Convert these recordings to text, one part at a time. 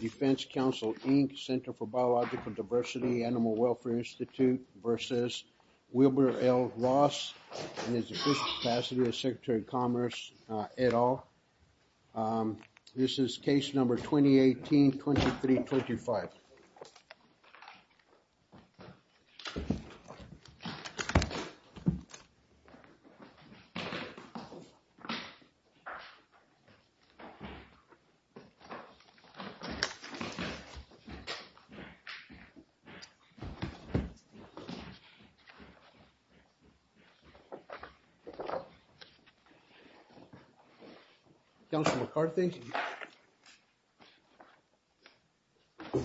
Defense Council, Inc., Center for Biological Diversity, Animal Welfare Institute v. Wilbur L. Ross, and his official staff, Secretary of Commerce, et al. This is case number 2018-2325. Councilman McCarthy. Good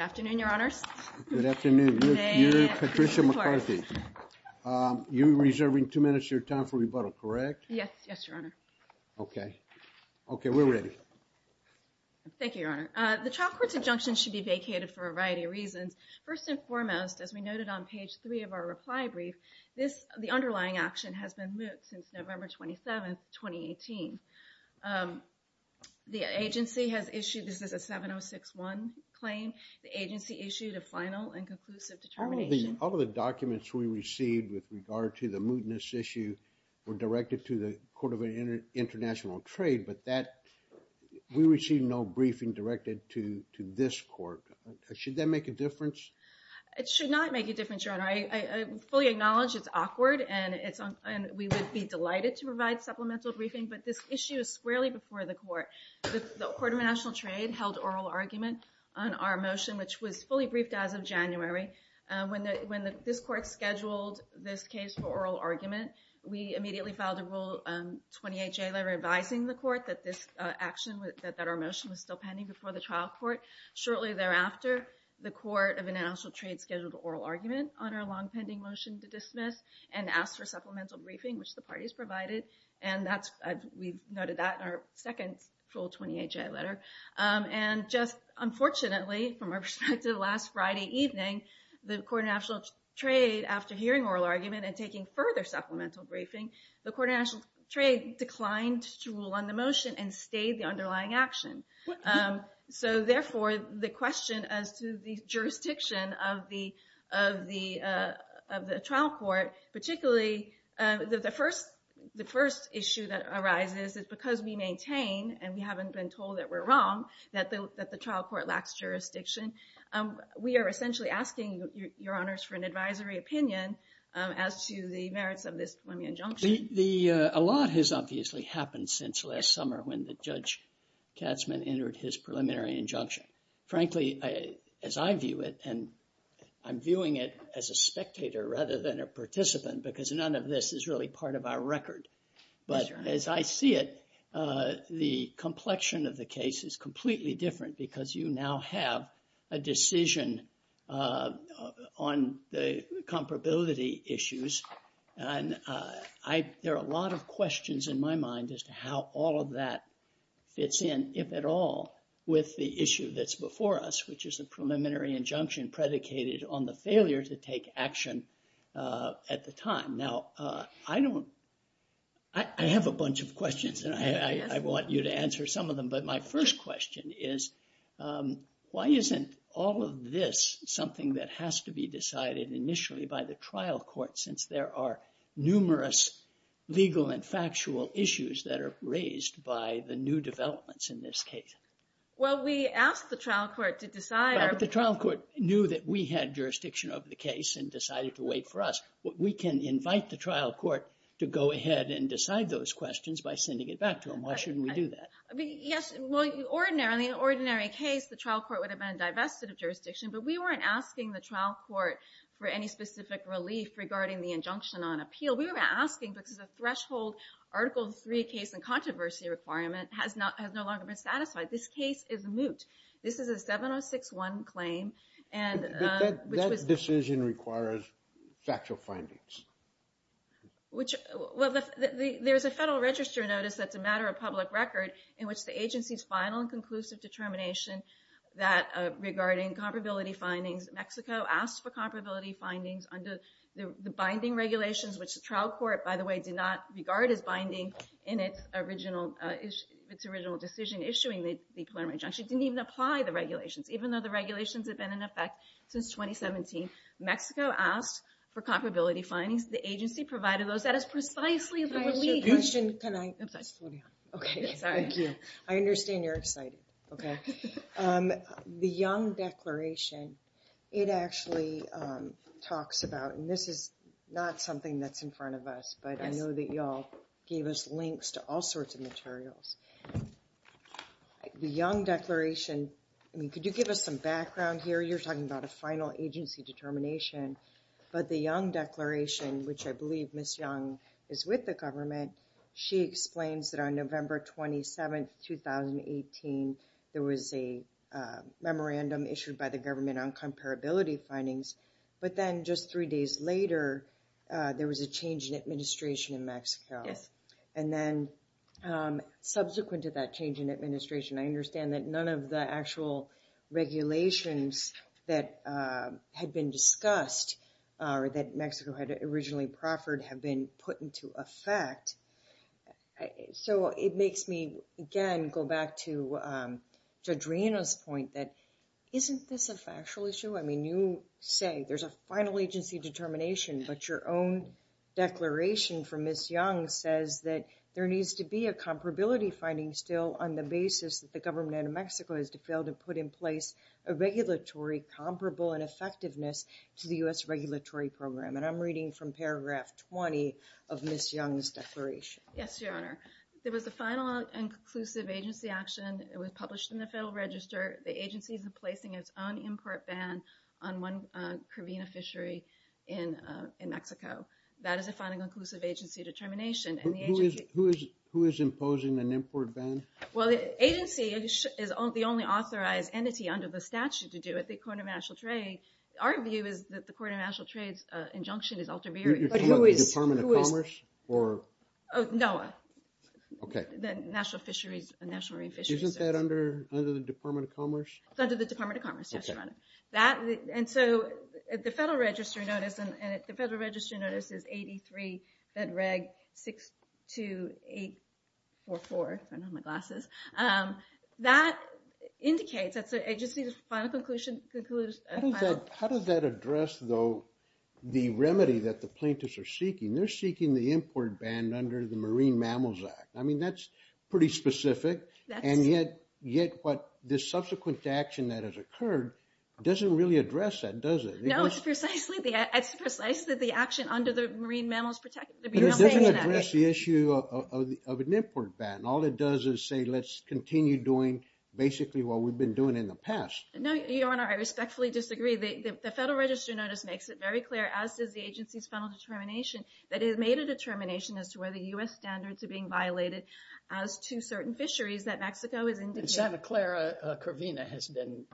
afternoon, Your Honor. Good afternoon. Patricia McCarthy. You're reserving two minutes of your time for rebuttal, correct? Yes, Your Honor. Okay. Okay, we're ready. Thank you, Your Honor. The child court's injunction should be vacated for a variety of reasons. First and foremost, as we noted on page 3 of our reply brief, the underlying action has been moot since November 27, 2018. The agency has issued, this is a 706-1 claim, the agency issued a final and conclusive determination. All of the documents we received with regard to the mootness issue were directed to the Court of International Trade, but we received no briefing directed to this court. Should that make a difference? It should not make a difference, Your Honor. I fully acknowledge it's awkward, and we would be delighted to provide supplemental briefing, but this issue is squarely before the Court. The Court of International Trade held oral arguments on our motion, which was fully briefed as of January. When this Court scheduled this case for oral argument, we immediately filed a Rule 28J letter advising the Court that this action, that our motion was still pending before the trial court. Shortly thereafter, the Court of International Trade scheduled oral arguments on our long-pending motion to dismiss and asked for supplemental briefing, which the parties provided, and we noted that in our second Rule 28J letter. Just unfortunately, from our perspective, last Friday evening, the Court of International Trade, after hearing oral argument and taking further supplemental briefing, the Court of International Trade declined to rule on the motion and stayed the underlying action. So, therefore, the question as to the jurisdiction of the trial court, particularly the first issue that arises is because we maintain, and we haven't been told that we're wrong, that the trial court lacks jurisdiction, we are essentially asking, Your Honors, for an advisory opinion as to the merits of this. A lot has obviously happened since last summer when Judge Katzmann entered his preliminary injunction. Frankly, as I view it, and I'm viewing it as a spectator rather than a participant because none of this is really part of our record, but as I see it, the complexion of the case is completely different because you now have a decision on the comparability issues. There are a lot of questions in my mind as to how all of that fits in, if at all, with the issue that's before us, which is the preliminary injunction predicated on the failure to take action at the time. Now, I have a bunch of questions, and I want you to answer some of them, but my first question is, why isn't all of this something that has to be decided initially by the trial court since there are numerous legal and factual issues that are raised by the new developments in this case? Well, we asked the trial court to decide. But if the trial court knew that we had jurisdiction over the case and decided to wait for us, we can invite the trial court to go ahead and decide those questions by sending it back to them. Why shouldn't we do that? Yes, in the ordinary case, the trial court would have been divested of jurisdiction, but we weren't asking the trial court for any specific relief regarding the injunction on appeal. We were asking because the threshold Article III case and controversy requirement has no longer been satisfied. This case is moot. This is a 706-1 claim. That decision requires factual findings. Well, there's a federal register notice that's a matter of public record in which the agency's final and conclusive determination regarding comparability findings. Mexico asked for comparability findings under the binding regulations, which the trial court, by the way, did not regard as binding in its original decision issuing the declaratory injunction. It didn't even apply the regulations, even though the regulations have been in effect since 2017. Mexico asked for comparability findings. The agency provided those. That is precisely why we… I understand you're excited. Okay. The Young Declaration, it actually talks about, and this is not something that's in front of us, but I know that y'all gave us links to all sorts of materials. The Young Declaration, I mean, could you give us some background here? You're talking about a final agency determination, but the Young Declaration, which I believe Ms. Young is with the government, she explains that on November 27, 2018, there was a memorandum issued by the government on comparability findings. But then just three days later, there was a change in administration in Mexico. And then subsequent to that change in administration, I understand that none of the actual regulations that had been discussed or that Mexico had originally proffered had been put into effect. So it makes me, again, go back to Adriana's point that isn't this a factual issue? I mean, you say there's a final agency determination, but your own declaration from Ms. Young says that there needs to be a comparability finding still on the basis that the government of Mexico has failed to put in place a regulatory comparable and effectiveness to the U.S. regulatory program. And I'm reading from paragraph 20 of Ms. Young's declaration. Yes, Your Honor. It was the final and conclusive agency action. It was published in the Federal Register. The agency is placing its own import ban on one Caribbean fishery in Mexico. That is a final and conclusive agency determination. Who is imposing an import ban? Well, the agency is the only authorized entity under the statute to do it, the Court of National Trade. Our view is that the Court of National Trade's injunction is ulterior. You're talking about the Department of Commerce? No. Okay. The National Marine Fisheries. Isn't that under the Department of Commerce? It's under the Department of Commerce, Your Honor. And so the Federal Register notice is 83-62844. I don't have my glasses. That indicates that the agency's final conclusion is final. How does that address, though, the remedy that the plaintiffs are seeking? They're seeking the import ban under the Marine Mammals Act. I mean, that's pretty specific. And yet what the subsequent action that has occurred doesn't really address that, does it? No, it's precisely the action under the Marine Mammals Protection Act. It doesn't address the issue of an import ban. All it does is say let's continue doing basically what we've been doing in the past. No, Your Honor, I respectfully disagree. The Federal Register notice makes it very clear, as does the agency's final determination, that it has made a determination as to whether U.S. standards are being violated as to certain fisheries that Mexico has interviewed. And Santa Clara Corvina has been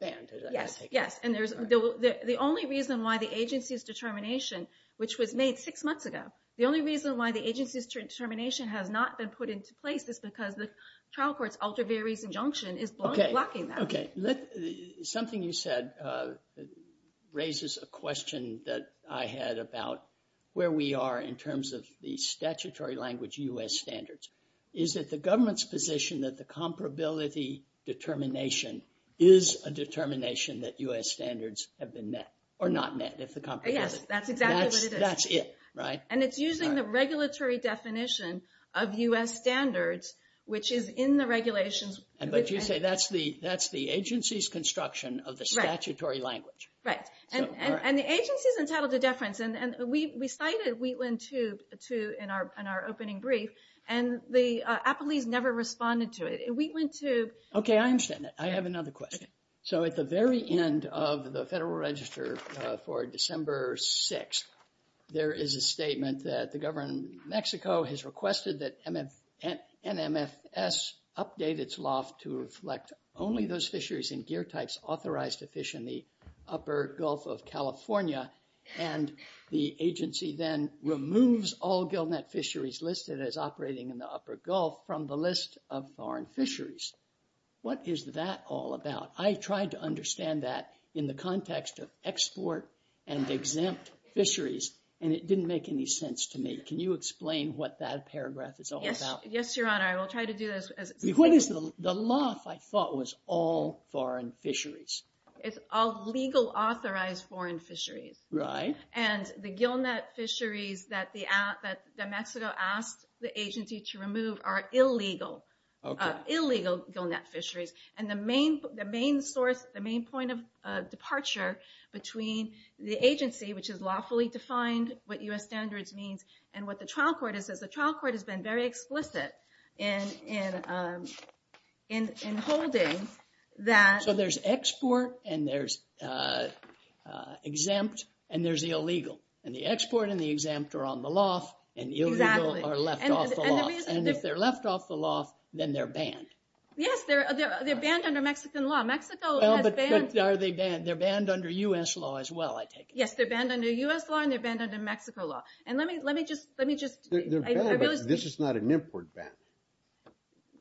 banned, is that how you take it? Yes, yes. And the only reason why the agency's determination, which was made six months ago, the only reason why the agency's determination has not been put into place is because the trial court's ultra-variable injunction is blocking that. Okay. Something you said raises a question that I had about where we are in terms of the statutory language U.S. standards. Is it the government's position that the comparability determination is a determination that U.S. standards have been met or not met? Yes, that's exactly what it is. That's it, right? And it's using the regulatory definition of U.S. standards, which is in the regulations. But you say that's the agency's construction of the statutory language. Right. And the agency's entitled to deference. And we cited Wheatland 2 in our opening brief, and the appellees never responded to it. Wheatland 2 – Okay, I understand that. I have another question. So at the very end of the Federal Register for December 6th, there is a statement that the government in Mexico has requested that NMFS update its loft to reflect only those fisheries and gear types authorized to fish in the upper Gulf of California. And the agency then removes all gillnet fisheries listed as operating in the upper Gulf from the list of foreign fisheries. What is that all about? I tried to understand that in the context of export and exempt fisheries, and it didn't make any sense to me. Can you explain what that paragraph is all about? Yes, Your Honor. I will try to do this. The loft, I thought, was all foreign fisheries. It's all legal authorized foreign fisheries. Right. And the gillnet fisheries that Mexico asked the agency to remove are illegal. Okay. Illegal gillnet fisheries. And the main source, the main point of departure between the agency, which is lawfully defined, what U.S. standards means, and what the trial court is, is the trial court has been very explicit in holding that – So there's export, and there's exempt, and there's the illegal. And the export and the exempt are on the loft, and the illegal are left off the loft. And if they're left off the loft, then they're banned. Yes, they're banned under Mexican law. Mexico has banned – They're banned under U.S. law as well, I take it. Yes, they're banned under U.S. law, and they're banned under Mexico law. And let me just – This is not an import ban.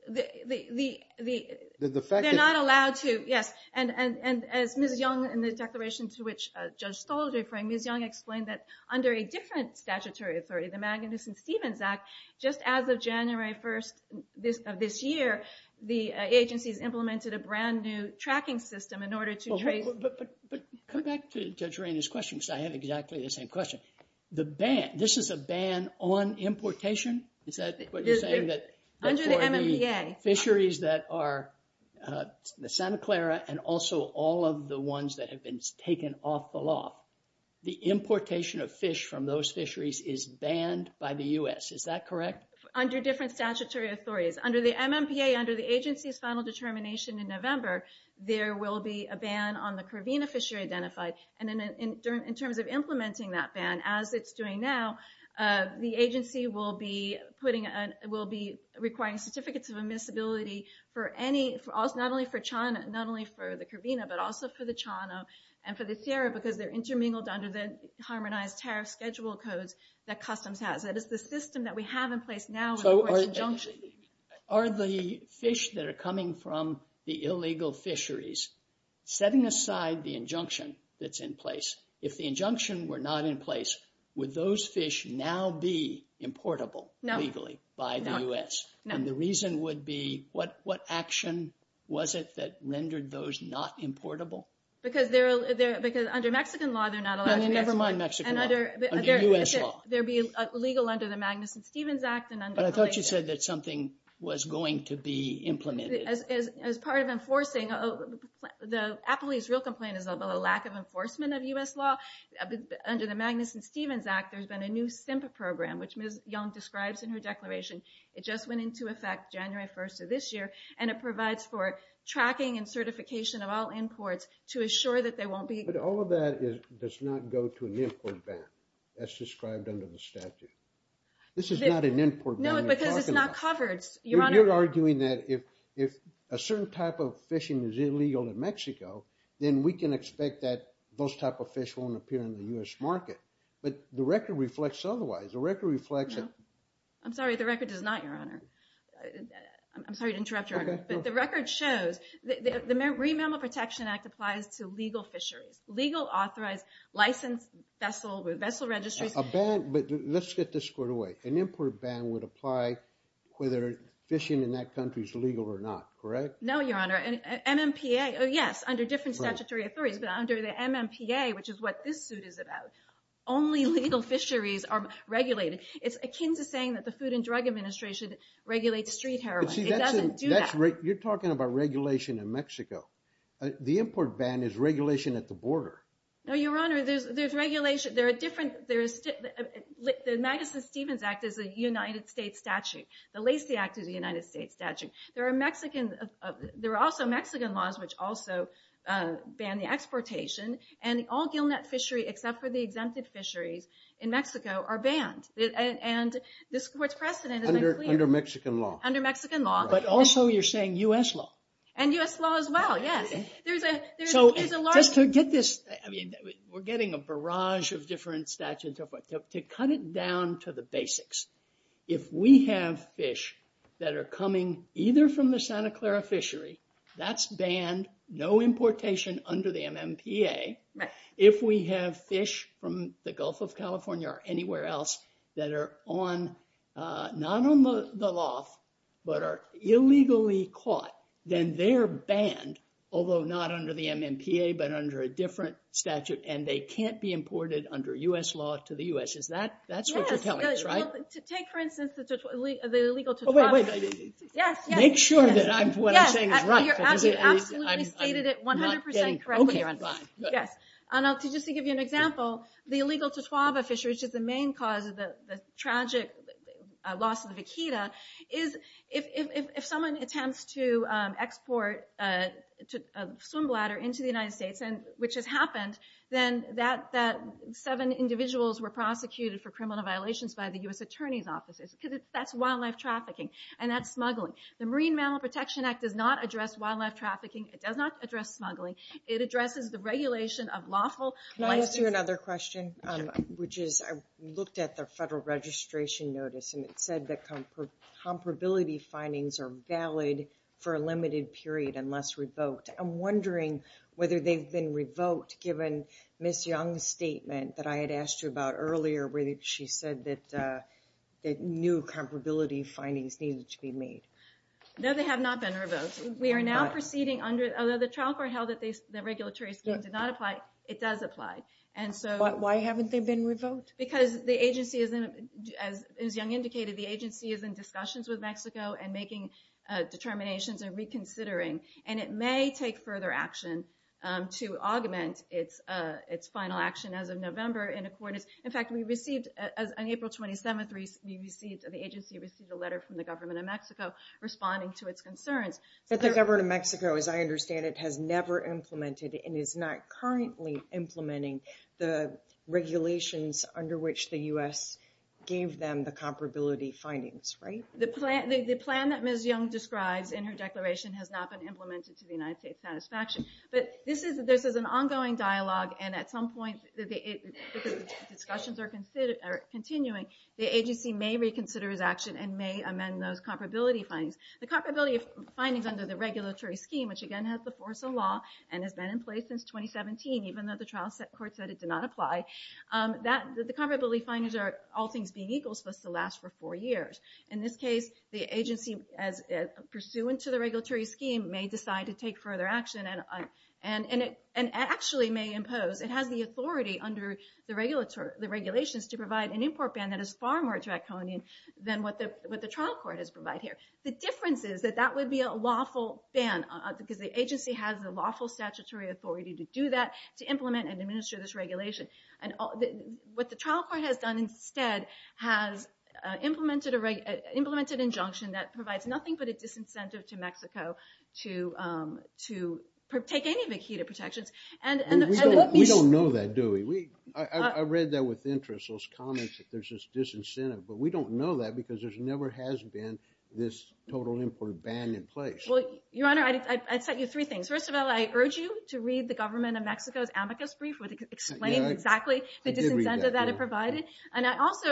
The fact is – They're not allowed to – yes. And as Ms. Young, in the declaration to which Judge Stoll is referring, Ms. Young explained that under a different statutory authority, the Magnuson-Stevens Act, just as of January 1st of this year, the agency has implemented a brand new tracking system in order to trace – But come back to Dr. Rainey's question, because I have exactly the same question. The ban – this is a ban on importation? Is that what you're saying? Under the MMPA. For the fisheries that are – the Santa Clara and also all of the ones that have been taken off the loft, the importation of fish from those fisheries is banned by the U.S. Is that correct? Under different statutory authorities. Under the MMPA, under the agency's final determination in November, there will be a ban on the Caribbean fishery identified. And in terms of implementing that ban, as it's doing now, the agency will be putting – will be requiring certificates of admissibility for any – not only for China, not only for the Caribbean, but also for the China and for the Sierra, because they're intermingled under the Harmonized Tariff Schedule codes that Customs has. So are the fish that are coming from the illegal fisheries, setting aside the injunction that's in place, if the injunction were not in place, would those fish now be importable legally by the U.S.? And the reason would be, what action was it that rendered those not importable? Because under Mexican law, they're not allowed to – Never mind Mexican law. Under U.S. law. They'd be illegal under the Magnuson-Stevens Act. But I thought you said that something was going to be implemented. As part of enforcing – the appellee's real complaint is about the lack of enforcement of U.S. law. Under the Magnuson-Stevens Act, there's been a new SIMPA program, which Ms. Young describes in her declaration. It just went into effect January 1st of this year, and it provides for tracking and certification of all imports to assure that they won't be – But all of that does not go to an import ban. That's described under the statute. This is not an import ban we're talking about. No, it's because it's not covered. You're arguing that if a certain type of fishing is illegal in Mexico, then we can expect that those type of fish won't appear in the U.S. market. But the record reflects otherwise. The record reflects – I'm sorry. The record does not, Your Honor. I'm sorry to interrupt, Your Honor. But the record shows – the Marine Mammal Protection Act applies to legal fisheries, legal, authorized, licensed vessel registries. A ban – but let's get this squared away. An import ban would apply whether fishing in that country is legal or not, correct? No, Your Honor. MMPA – yes, under different statutory authorities. Under the MMPA, which is what this suit is about, only legal fisheries are regulated. It's akin to saying that the Food and Drug Administration regulates street heroin. It doesn't do that. You're talking about regulation in Mexico. The import ban is regulation at the border. No, Your Honor. There are different – the Madison-Stevens Act is a United States statute. The Lacey Act is a United States statute. There are Mexican – there are also Mexican laws, which also ban the exportation. And all gillnet fishery, except for the exempted fisheries in Mexico, are banned. And what's precedent is – Under Mexican law. Under Mexican law. But also you're saying U.S. law. And U.S. law as well, yes. There's a large – To get this – I mean, we're getting a barrage of different statutes. To cut it down to the basics, if we have fish that are coming either from the Santa Clara fishery – that's banned, no importation under the MMPA. If we have fish from the Gulf of California or anywhere else that are on – not on the loft, but are illegally caught, then they're banned. Although not under the MMPA, but under a different statute. And they can't be imported under U.S. law to the U.S. Is that – that's what you're telling us, right? Yes. Take, for instance, the illegal – Wait, wait, wait. Yes, yes. Make sure that I'm – what I'm saying is right. Yes, you're absolutely stated it 100% correctly, Your Honor. Okay, fine. Yes. And I'll just give you an example. The illegal Tswaba fishery, which is the main cause of the tragic loss of the vaquita, is if someone attempts to export a swim bladder into the United States, which has happened, then that – seven individuals were prosecuted for criminal violations by the U.S. Attorney's Office. Because that's wildlife trafficking, and that's smuggling. The Marine Mammal Protection Act does not address wildlife trafficking. It does not address smuggling. It addresses the regulation of lawful – Can I ask you another question, which is I looked at the federal registration notice, and it said that comparability findings are valid for a limited period unless revoked. I'm wondering whether they've been revoked given Ms. Young's statement that I had asked you about earlier where she said that new comparability findings need to be made. No, they have not been revoked. We are now proceeding under – although the trial court held that the regulatory scheme did not apply, it does apply. Why haven't they been revoked? Because the agency isn't – as Young indicated, the agency is in discussions with Mexico and making determinations and reconsidering. And it may take further action to augment its final action as of November. In fact, we received – on April 27th, we received – But the government of Mexico, as I understand it, has never implemented and is not currently implementing the regulations under which the U.S. gave them the comparability findings, right? The plan that Ms. Young described in her declaration has not been implemented to the United States' satisfaction. But this is an ongoing dialogue, and at some point, the discussions are continuing. The agency may reconsider its action and may amend those comparability findings. The comparability findings under the regulatory scheme, which again has the force of law and has been in place since 2017, even though the trial court said it did not apply, the comparability findings are all things being equal, so it's going to last for four years. In this case, the agency, pursuant to the regulatory scheme, may decide to take further action and actually may impose – it has the authority under the regulations to provide an import ban that is far more draconian than what the trial court has provided here. The difference is that that would be a lawful ban because the agency has the lawful statutory authority to do that, to implement and administer this regulation. And what the trial court has done instead has implemented an injunction that provides nothing but a disincentive to Mexico to take any of the QEDA protections. We don't know that, do we? I read that with interest, those comments that there's this disincentive. But we don't know that because there never has been this total import ban in place. Well, Your Honor, I'll tell you three things. First of all, I urge you to read the government of Mexico's amicus brief, which explains exactly the disincentive that it provided. And I also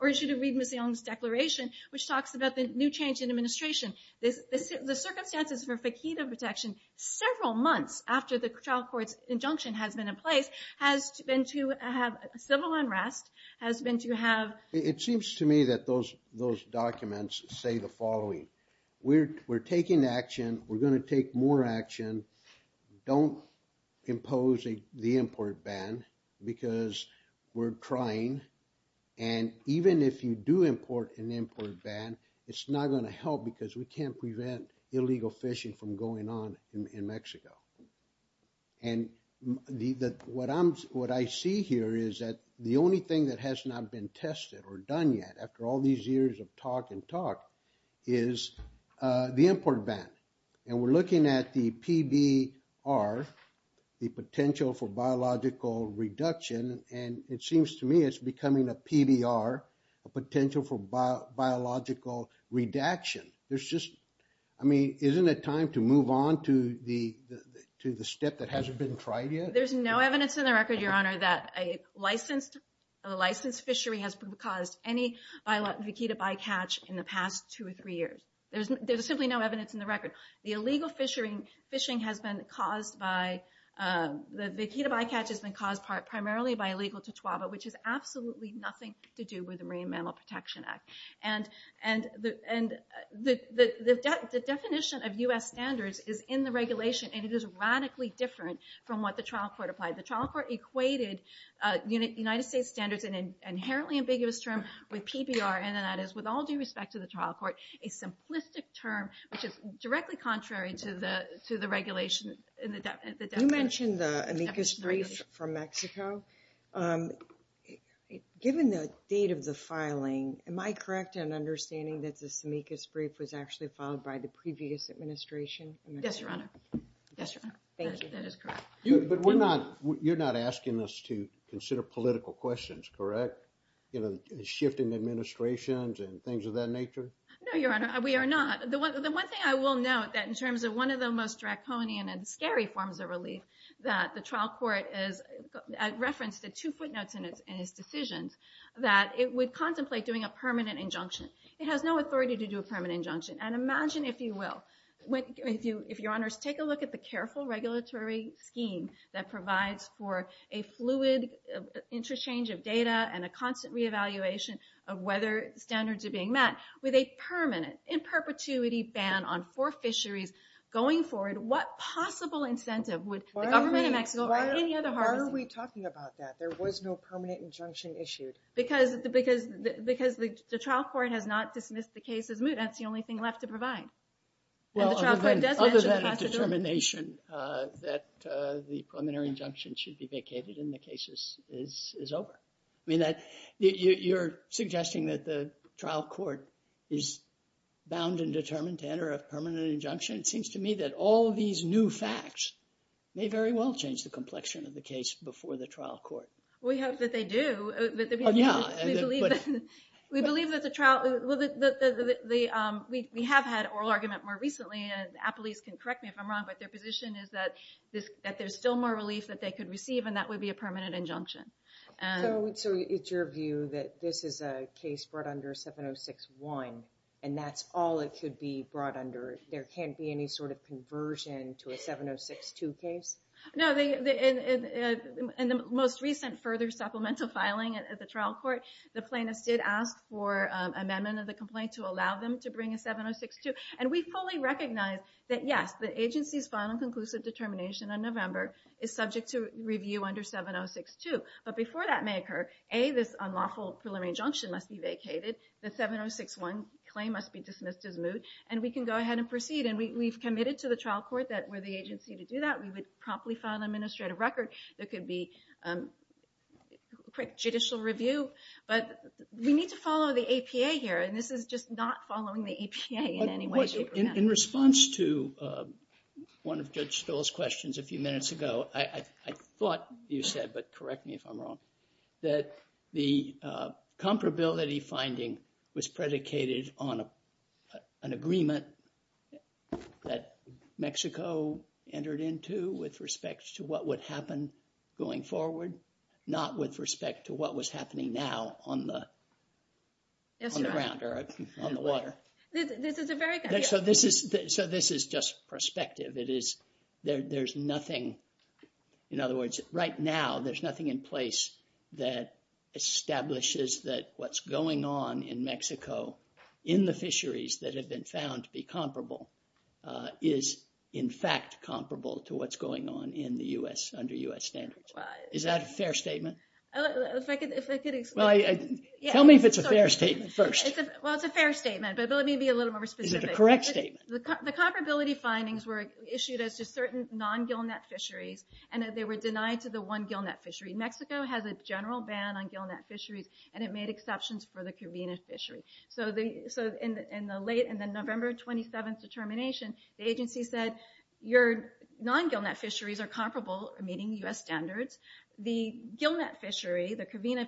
urge you to read Ms. Allen's declaration, which talks about the new change in administration. The circumstances for QEDA protections several months after the trial court's injunction has been in place has been to have civil unrest, has been to have – It seems to me that those documents say the following. We're taking action. We're going to take more action. Don't impose the import ban because we're trying. And even if you do import an import ban, it's not going to help because we can't prevent illegal fishing from going on in Mexico. And what I see here is that the only thing that has not been tested or done yet, after all these years of talk and talk, is the import ban. And we're looking at the PDR, the potential for biological reduction, and it seems to me it's becoming a PDR, a potential for biological redaction. There's just – I mean, isn't it time to move on to the step that hasn't been tried yet? There's no evidence in the record, Your Honor, that a licensed fishery has caused any vaquita bycatch in the past two or three years. There's simply no evidence in the record. The illegal fishing has been caused by – the vaquita bycatch has been caused primarily by illegal totoaba, which has absolutely nothing to do with the Marine Mammal Protection Act. And the definition of U.S. standards is in the regulation, and it is radically different from what the trial court applied. The trial court equated United States standards, an inherently ambiguous term, with PDR, and that is with all due respect to the trial court, a simplistic term, which is directly contrary to the regulations in the definition. You mentioned the amicus brief from Mexico. Given the state of the filing, am I correct in understanding that this amicus brief was actually filed by the previous administration? Yes, Your Honor. Thank you. That is correct. But we're not – you're not asking us to consider political questions, correct, shifting administrations and things of that nature? No, Your Honor, we are not. The one thing I will note that in terms of one of the most draconian and scary forms of relief that the trial court referenced the two footnotes in its decision, that it would contemplate doing a permanent injunction. It has no authority to do a permanent injunction. And imagine, if you will, if Your Honors take a look at the careful regulatory scheme that provides for a fluid interchange of data and a constant re-evaluation of whether standards are being met with a permanent, in perpetuity ban on for fisheries going forward, what possible incentive would the government of Mexico or any other – Why are we talking about that? There was no permanent injunction issued. Because the trial court has not dismissed the case as moot. That's the only thing left to provide. Well, other than the determination that the preliminary injunction should be vacated and the case is over. You're suggesting that the trial court is bound and determined to enter a permanent injunction. It seems to me that all these new facts may very well change the complexion of the case before the trial court. We hope that they do. Yeah. We believe that the trial – we have had oral argument more recently, and appellees can correct me if I'm wrong, but their position is that there's still more relief that they could receive, and that would be a permanent injunction. So it's your view that this is a case brought under 706-1, and that's all it could be brought under? There can't be any sort of conversion to a 706-2 case? No. In the most recent further supplemental filing at the trial court, the plaintiffs did ask for amendment of the complaint to allow them to bring a 706-2. And we fully recognize that, yes, the agency's final conclusive determination in November is subject to review under 706-2. But before that may occur, A, this unlawful preliminary injunction must be vacated. The 706-1 claim must be dismissed as moot, and we can go ahead and proceed. And we've committed to the trial court that we're the agency to do that. We would promptly file an administrative record. There could be judicial review. But we need to follow the APA here, and this is just not following the APA in any way, shape, or form. In response to one of Judge Stoll's questions a few minutes ago, I thought you said, but correct me if I'm wrong, that the comparability finding was predicated on an agreement that Mexico entered into with respect to what would happen going forward, not with respect to what was happening now on the ground or on the water. So this is just perspective. There's nothing, in other words, right now there's nothing in place that establishes that what's going on in Mexico in the fisheries that have been found to be comparable is in fact comparable to what's going on in the U.S. under U.S. standards. Is that a fair statement? Tell me if it's a fair statement first. Well, it's a fair statement, but let me be a little more specific. Is it a correct statement? The comparability findings were issued as to certain non-gillnet fisheries, and they were denied to the one gillnet fishery. Mexico has a general ban on gillnet fisheries, and it made exceptions for the Covina fishery. So in the November 27th determination, the agency said your non-gillnet fisheries are comparable, meaning U.S. standards. The gillnet fishery, the Covina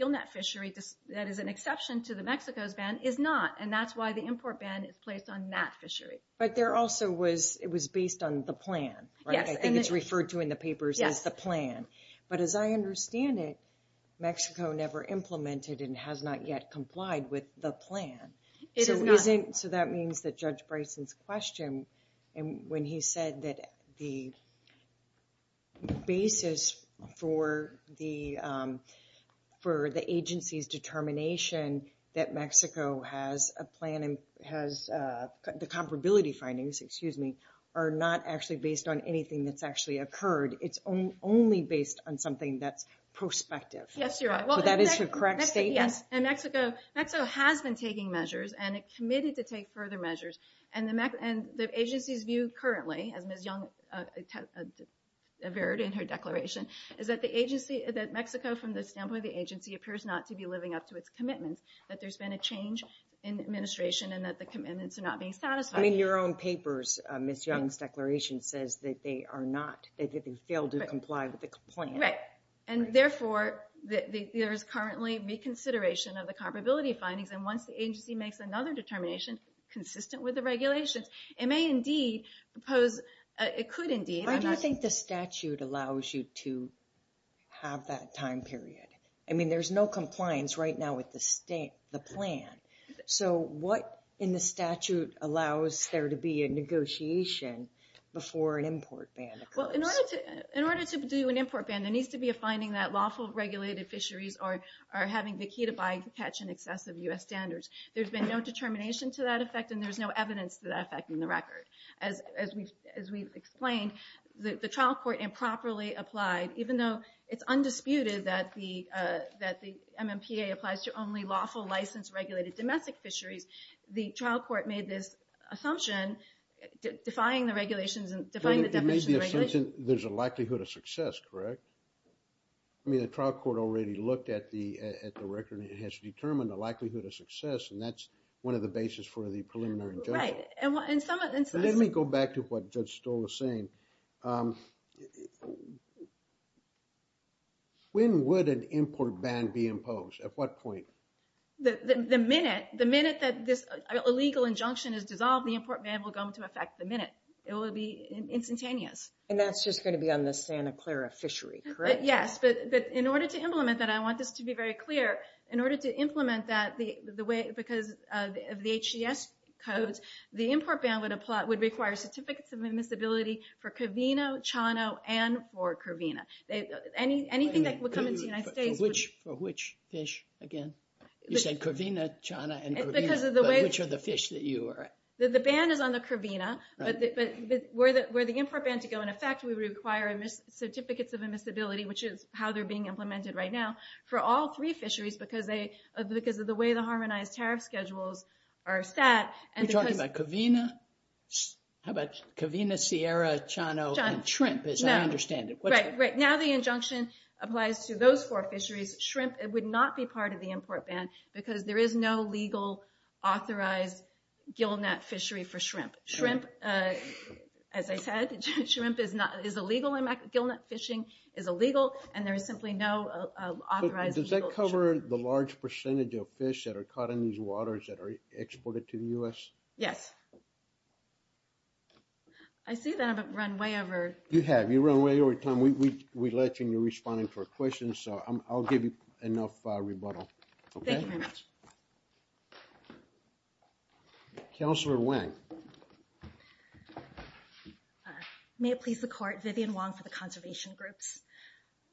gillnet fishery, that is an exception to the Mexico's ban, is not, and that's why the import ban is placed on that fishery. But there also was – it was based on the plan, right? I think it's referred to in the papers as the plan. But as I understand it, Mexico never implemented and has not yet complied with the plan. So that means that Judge Bryson's question, when he said that the basis for the agency's determination that Mexico has a plan and has – the comparability findings, excuse me, are not actually based on anything that's actually occurred. It's only based on something that's prospective. Yes, you're right. So that is your correct statement? Yes. And Mexico has been taking measures and committed to take further measures. And the agency's view currently, as Ms. Young has verified in her declaration, is that the agency – that Mexico, from the standpoint of the agency, appears not to be living up to its commitments, that there's been a change in administration and that the commitments are not being satisfied. And in your own papers, Ms. Young's declaration says that they are not – that they failed to comply with the plan. Right. And therefore, there is currently reconsideration of the comparability findings. And once the agency makes another determination consistent with the regulations, it may indeed pose – it could indeed. I don't think the statute allows you to have that time period. I mean, there's no compliance right now with the plan. So what in the statute allows there to be a negotiation before an import ban occurs? Well, in order to do an import ban, there needs to be a finding that lawful regulated fisheries are having the key to buy, catch, and access of U.S. standards. There's been no determination to that effect, and there's no evidence to that effect in the record. As we've explained, the trial court improperly applied. Even though it's undisputed that the MMPA applies to only lawful, licensed, regulated domestic fisheries, the trial court made this assumption defying the regulations and defying the definition of regulation. There's a likelihood of success, correct? I mean, the trial court already looked at the record and it has determined the likelihood of success, and that's one of the bases for the preliminary judgment. Let me go back to what Judge Stoll was saying. When would an import ban be imposed? At what point? The minute that this illegal injunction is dissolved, the import ban will go into effect the minute. It will be instantaneous. And that's just going to be on the Santa Clara fishery, correct? Yes, but in order to implement that, I want this to be very clear. In order to implement that, because of the HDS code, the import ban would require certificates of admissibility for Covina, Chano, and for Covina. Anything that would come into the United States... For which fish, again? You said Covina, Chano, and Covina. Which are the fish that you are... The ban is on the Covina, but where the import ban would go into effect would require certificates of admissibility, which is how they're being implemented right now. For all three fisheries, because of the way the harmonized tariff schedules are set... Are you talking about Covina? How about Covina, Sierra, Chano, and shrimp, as I understand it. Right, right. Now the injunction applies to those four fisheries. Shrimp would not be part of the import ban because there is no legal authorized gillnet fishery for shrimp. Shrimp, as I said, shrimp is illegal. Gillnet fishing is illegal, and there is simply no authorized... Does that cover the large percentage of fish that are caught in these waters that are exported to the U.S.? Yes. I see that I've run way over... You have. You run way over time. We let you, and you're responding to our questions, so I'll give you enough rebuttal. Thank you very much. Counselor Nguyen. May it please the Court. Vivian Wong for the Conservation Group.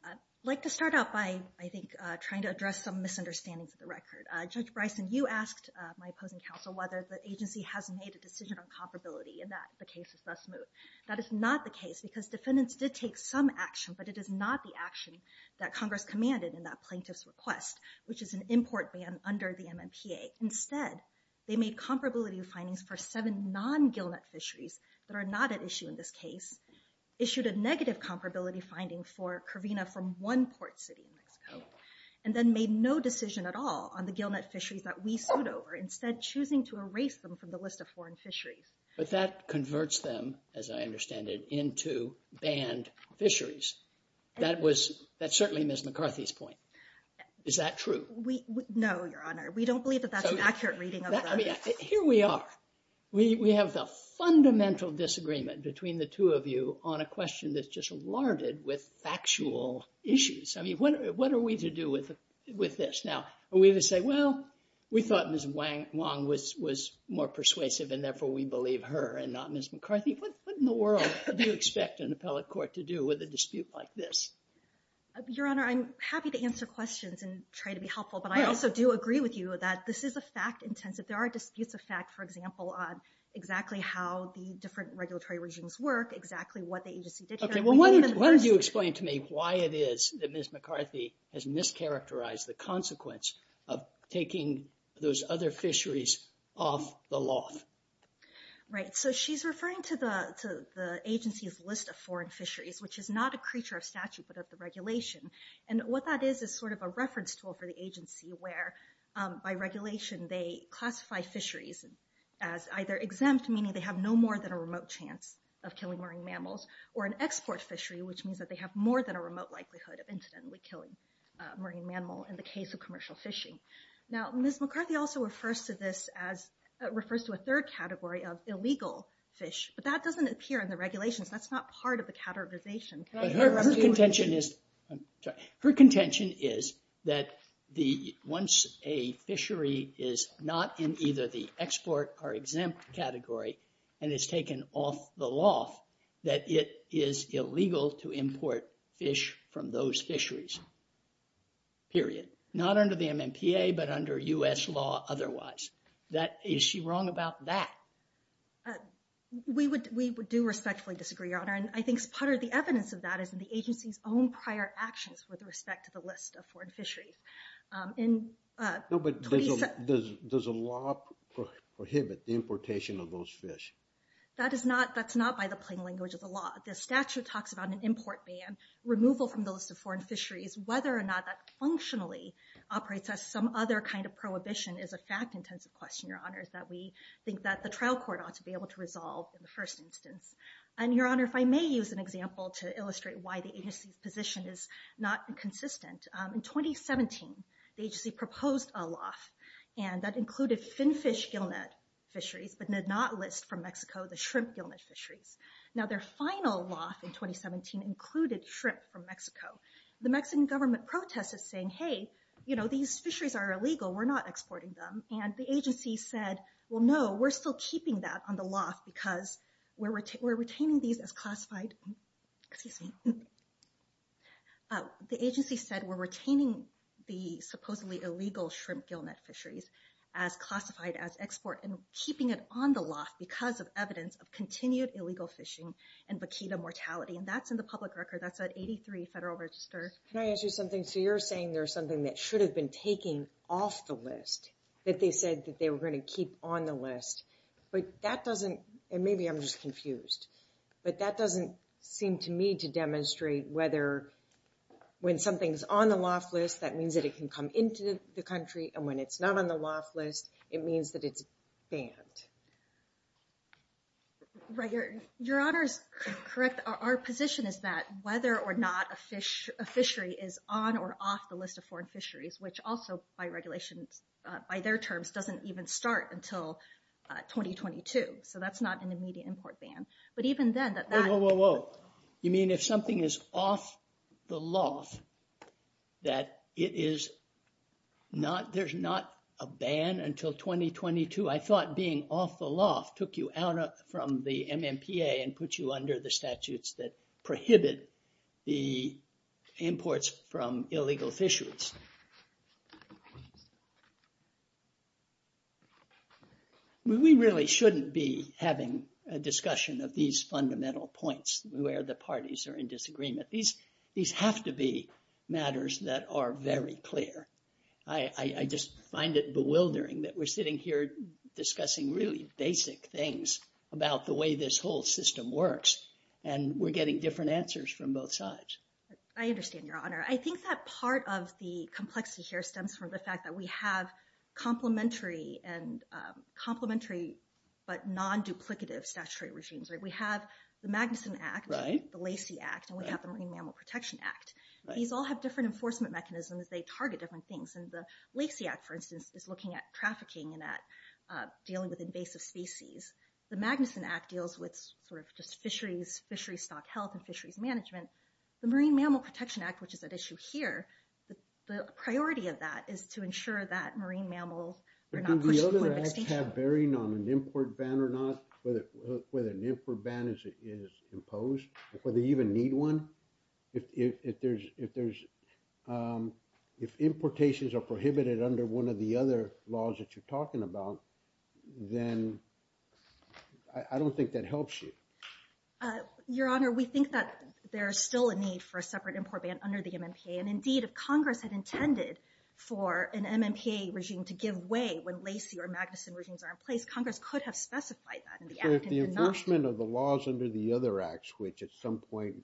I'd like to start out by, I think, trying to address some misunderstandings of the record. Judge Bryson, you asked my opposing counsel whether the agency has made a decision on comparability, and that the case is thus moved. That is not the case, because defendants did take some action, but it is not the action that Congress commanded in that plaintiff's request, which is an import ban under the MMPA. Instead, they made comparability findings for seven non-gillnet fisheries that are not at issue in this case, issued a negative comparability finding for Carina from one port city, and then made no decision at all on the gillnet fisheries that we sued over, instead choosing to erase them from the list of foreign fisheries. But that converts them, as I understand it, into banned fisheries. Is that true? No, Your Honor. We don't believe that that's an accurate reading of the record. Here we are. We have the fundamental disagreement between the two of you on a question that's just larded with factual issues. I mean, what are we to do with this? Now, we would say, well, we thought Ms. Wong was more persuasive, and therefore we believe her and not Ms. McCarthy. What in the world do you expect an appellate court to do with a dispute like this? Your Honor, I'm happy to answer questions and try to be helpful, but I also do agree with you that this is a fact-intensive. There are disputes of fact, for example, on exactly how the different regulatory regimes work, exactly what the agency did. Okay. Well, why don't you explain to me why it is that Ms. McCarthy has mischaracterized the consequence of taking those other fisheries off the law? Right. So she's referring to the agency's list of foreign fisheries, which is not a creature of statute but of the regulation. And what that is is sort of a reference tool for the agency where, by regulation, they classify fisheries as either exempt, meaning they have no more than a remote chance of killing marine mammals, or an export fishery, which means that they have more than a remote likelihood of incidentally killing a marine mammal in the case of commercial fishing. Now, Ms. McCarthy also refers to this as, refers to a third category of illegal fish, but that doesn't appear in the regulations. That's not part of the categorization. Her contention is that once a fishery is not in either the export or exempt category and is taken off the law, that it is illegal to import fish from those fisheries. Period. Not under the MMPA, but under U.S. law otherwise. Is she wrong about that? We do respectfully disagree, Your Honor. And I think part of the evidence of that is in the agency's own prior actions with respect to the list of foreign fisheries. Does the law prohibit the importation of those fish? That's not by the plain language of the law. The statute talks about an import ban, removal from the list of foreign fisheries. Whether or not that functionally operates as some other kind of prohibition is a fact-intensive question, Your Honor, that we think that the trial court ought to be able to resolve in the first instance. And Your Honor, if I may use an example to illustrate why the agency's position is not consistent. In 2017, the agency proposed a loss. And that included finfish gillnet fisheries, but did not list from Mexico the shrimp gillnet fishery. Now their final loss in 2017 included shrimp from Mexico. The Mexican government protested saying, hey, you know, these fisheries are illegal. We're not exporting them. And the agency said, well, no, we're still keeping that on the loss because we're retaining these as classified. Excuse me. The agency said we're retaining the supposedly illegal shrimp gillnet fisheries as classified as export and keeping it on the loss because of evidence of continued illegal fishing and vaquita mortality. And that's in the public record. That's at 83 Federal Register. Can I ask you something? So you're saying there's something that should have been taken off the list that they said that they were going to keep on the list, but that doesn't, and maybe I'm just confused, but that doesn't seem to me to demonstrate whether when something's on the loss list, that means that it can come into the country. And when it's not on the loss list, it means that it's banned. Right. Your honor is correct. Our position is that whether or not a fish, a fishery is on or off the list of foreign fisheries, which also by regulation, by their terms, doesn't even start until 2022. So that's not an immediate import ban, but even then. Whoa, whoa, whoa, whoa. You mean if something is off the loss, that it is not, there's not a ban until 2022. I thought being off the loft took you out from the MMPA and put you under the statutes that prohibit the imports from illegal fishers. We really shouldn't be having a discussion of these fundamental points where the parties are in disagreement. These have to be matters that are very clear. I just find it bewildering that we're sitting here discussing really basic things about the way this whole system works and we're getting different answers from both sides. I understand your honor. I think that part of the complexity here stems from the fact that we have complementary but non-duplicative statutory regimes. We have the Magnuson Act, the Lacey Act, and we have the Marine Mammal Protection Act. These all have different enforcement mechanisms. They target different things. And the Lacey Act, for instance, is looking at trafficking and at dealing with invasive species. The Magnuson Act deals with just fisheries, fishery stock health and fisheries management. The Marine Mammal Protection Act, which is at issue here, the priority of that is to ensure that marine mammals are not pushed away. Do the other acts have bearing on an import ban or not, whether an import ban is imposed or they even need one? If importations are prohibited under one of the other laws that you're talking about, then I don't think that helps you. Your honor, we think that there is still a need for a separate import ban under the MMPA. And, indeed, if Congress had intended for an MMPA regime to give way when Lacey or Magnuson regimes are in place, Congress could have specified that. So if the enforcement of the laws under the other acts, which at some point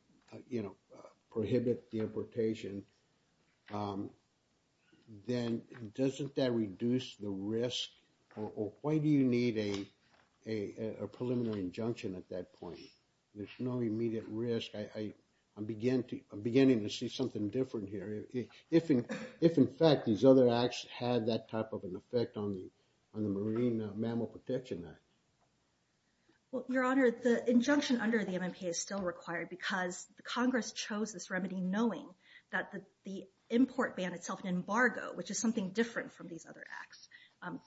prohibit the importation, then doesn't that reduce the risk? Why do you need a preliminary injunction at that point? There's no immediate risk. I'm beginning to see something different here. If, in fact, these other acts had that type of an effect on the Marine Mammal Protection Act. Well, your honor, the injunction under the MMPA is still required because Congress chose this remedy knowing that the import ban itself, an embargo, which is something different from these other acts,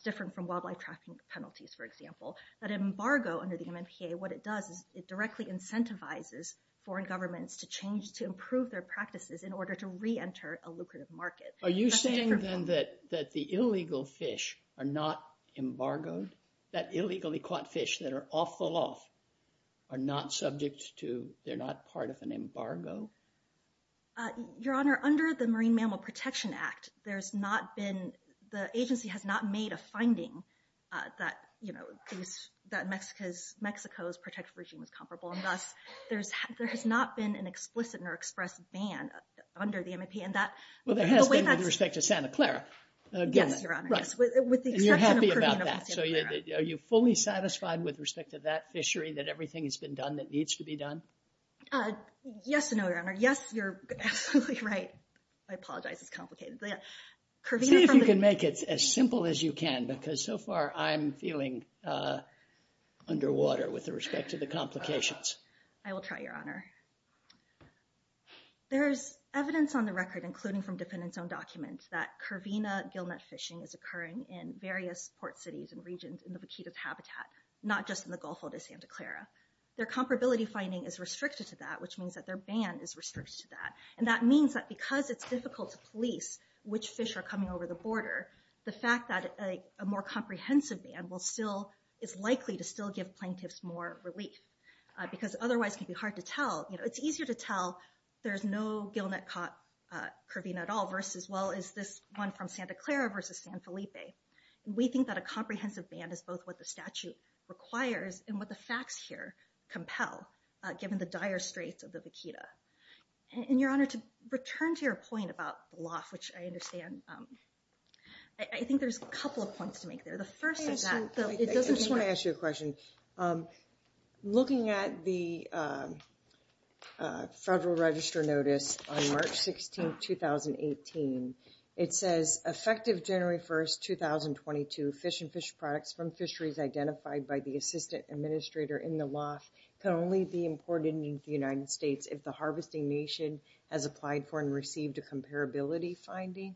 different from wildlife trafficking penalties, for example, that embargo under the MMPA, what it does, it directly incentivizes foreign governments to change, to improve their practices in order to reenter a lucrative market. Are you saying, then, that the illegal fish are not embargoed? That illegally caught fish that are off the law are not subject to, they're not part of an embargo? Your honor, under the Marine Mammal Protection Act, there's not been, the agency has not made a finding that, you know, Mexico's protected regime is comparable, and thus there has not been an explicit or express ban under the MMPA. Well, they have been with respect to Santa Clara. Yes, your honor. And you're happy about that. So are you fully satisfied with respect to that fishery, that everything has been done that needs to be done? Yes and no, your honor. Yes, you're absolutely right. I apologize, it's complicated. See if you can make it as simple as you can, because so far I'm feeling underwater with respect to the complications. I will try, your honor. There's evidence on the record, including from defendants' own documents, that curvina gillnet fishing is occurring in various port cities and regions in the Vaquita's habitat, not just in the Gulf of Santa Clara. Their comparability finding is restricted to that, which means that their ban is restricted to that. And that means that because it's difficult to police which fish are coming over the border, the fact that a more comprehensive ban is likely to still give plaintiffs more relief, because otherwise it would be hard to tell. It's easier to tell there's no gillnet caught curvina at all, as well as this one from Santa Clara versus San Felipe. We think that a comprehensive ban is both what the statute requires and what the facts here compel, given the dire straits of the Vaquita. And, your honor, to return to your point about the loss, which I understand, I think there's a couple of points to make there. The first is that... I just want to ask you a question. Looking at the federal register notice on March 16, 2018, it says effective January 1, 2022, fish and fish products from fisheries identified by the assistant administrator in the loss can only be imported into the United States if the harvesting nation has applied for and received a comparability finding.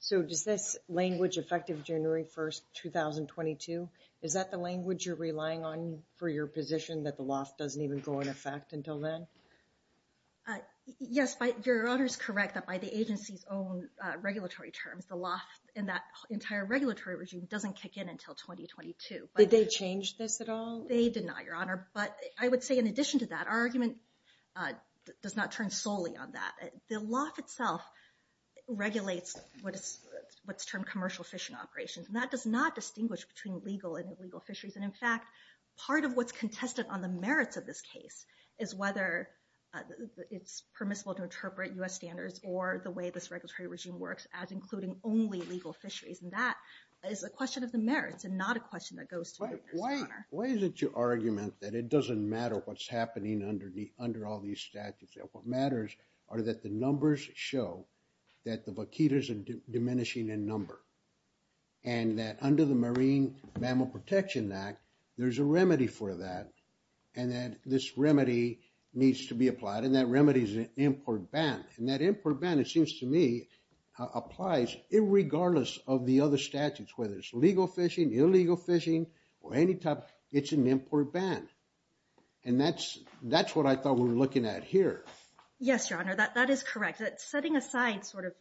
So does this language effective January 1, 2022, is that the language you're relying on for your position that the loss doesn't even go into effect until then? Yes, your honor is correct that by the agency's own regulatory terms, the loss in that entire regulatory regime doesn't kick in until 2022. Did they change this at all? They did not, your honor. But I would say in addition to that, our argument does not turn solely on that. The loss itself regulates what's termed commercial fishing operations. And that does not distinguish between legal and illegal fisheries. And, in fact, part of what's contested on the merits of this case is whether it's permissible to interpret U.S. standards or the way this regulatory regime works as including only legal fisheries. And that is a question of the merits and not a question that goes to... Why is it your argument that it doesn't matter what's happening under all these statutes? What matters are that the numbers show that the vaquitas are diminishing in number. And that under the Marine Mammal Protection Act, there's a remedy for that. And that this remedy needs to be applied. And that remedy is an import ban. And that import ban, it seems to me, applies regardless of the other statutes, whether it's legal fishing, illegal fishing, or any type. It's an import ban. And that's what I thought we were looking at here. Yes, Your Honor, that is correct. Setting aside sort of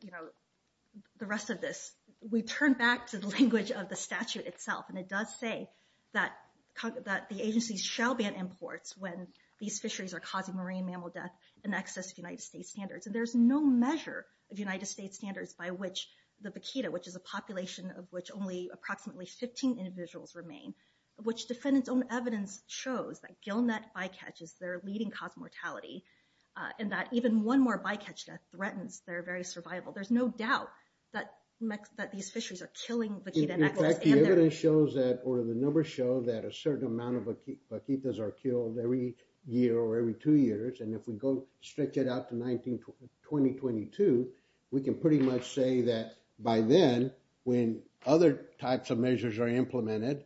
the rest of this, we turn back to the language of the statute itself. And it does say that the agency shall ban imports when these fisheries are causing marine mammal death in excess of United States standards. And there's no measure of United States standards by which the vaquita, which is a population of which only approximately 15 individuals remain, which defendant's own evidence shows that gill net bycatch is their leading cause of mortality. And that even one more bycatch death threatens their very survival. There's no doubt that these fisheries are killing vaquita. In fact, the evidence shows that, or the numbers show, that a certain amount of vaquitas are killed every year or every two years. And if we go, stretch it out to 2022, we can pretty much say that by then, when other types of measures are implemented,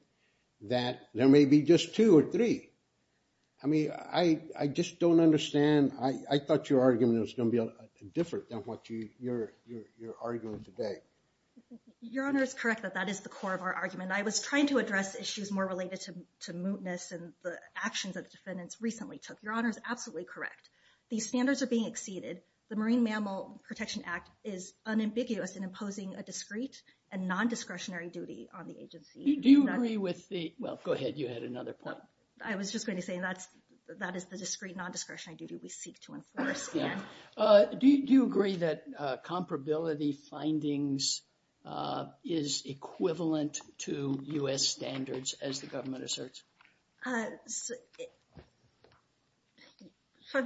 that there may be just two or three. I mean, I just don't understand. I thought your argument was going to be different than what you're arguing today. Your Honor is correct that that is the core of our argument. I was trying to address issues more related to mootness and the actions that defendants recently took. Your Honor is absolutely correct. These standards are being exceeded. The Marine Mammal Protection Act is unambiguous in imposing a discreet and non-discretionary duty on the agency. Do you agree with the – well, go ahead. You had another point. I was just going to say that is the discreet, non-discretionary duty we seek to enforce. Do you agree that comparability findings is equivalent to U.S. standards as the government asserts?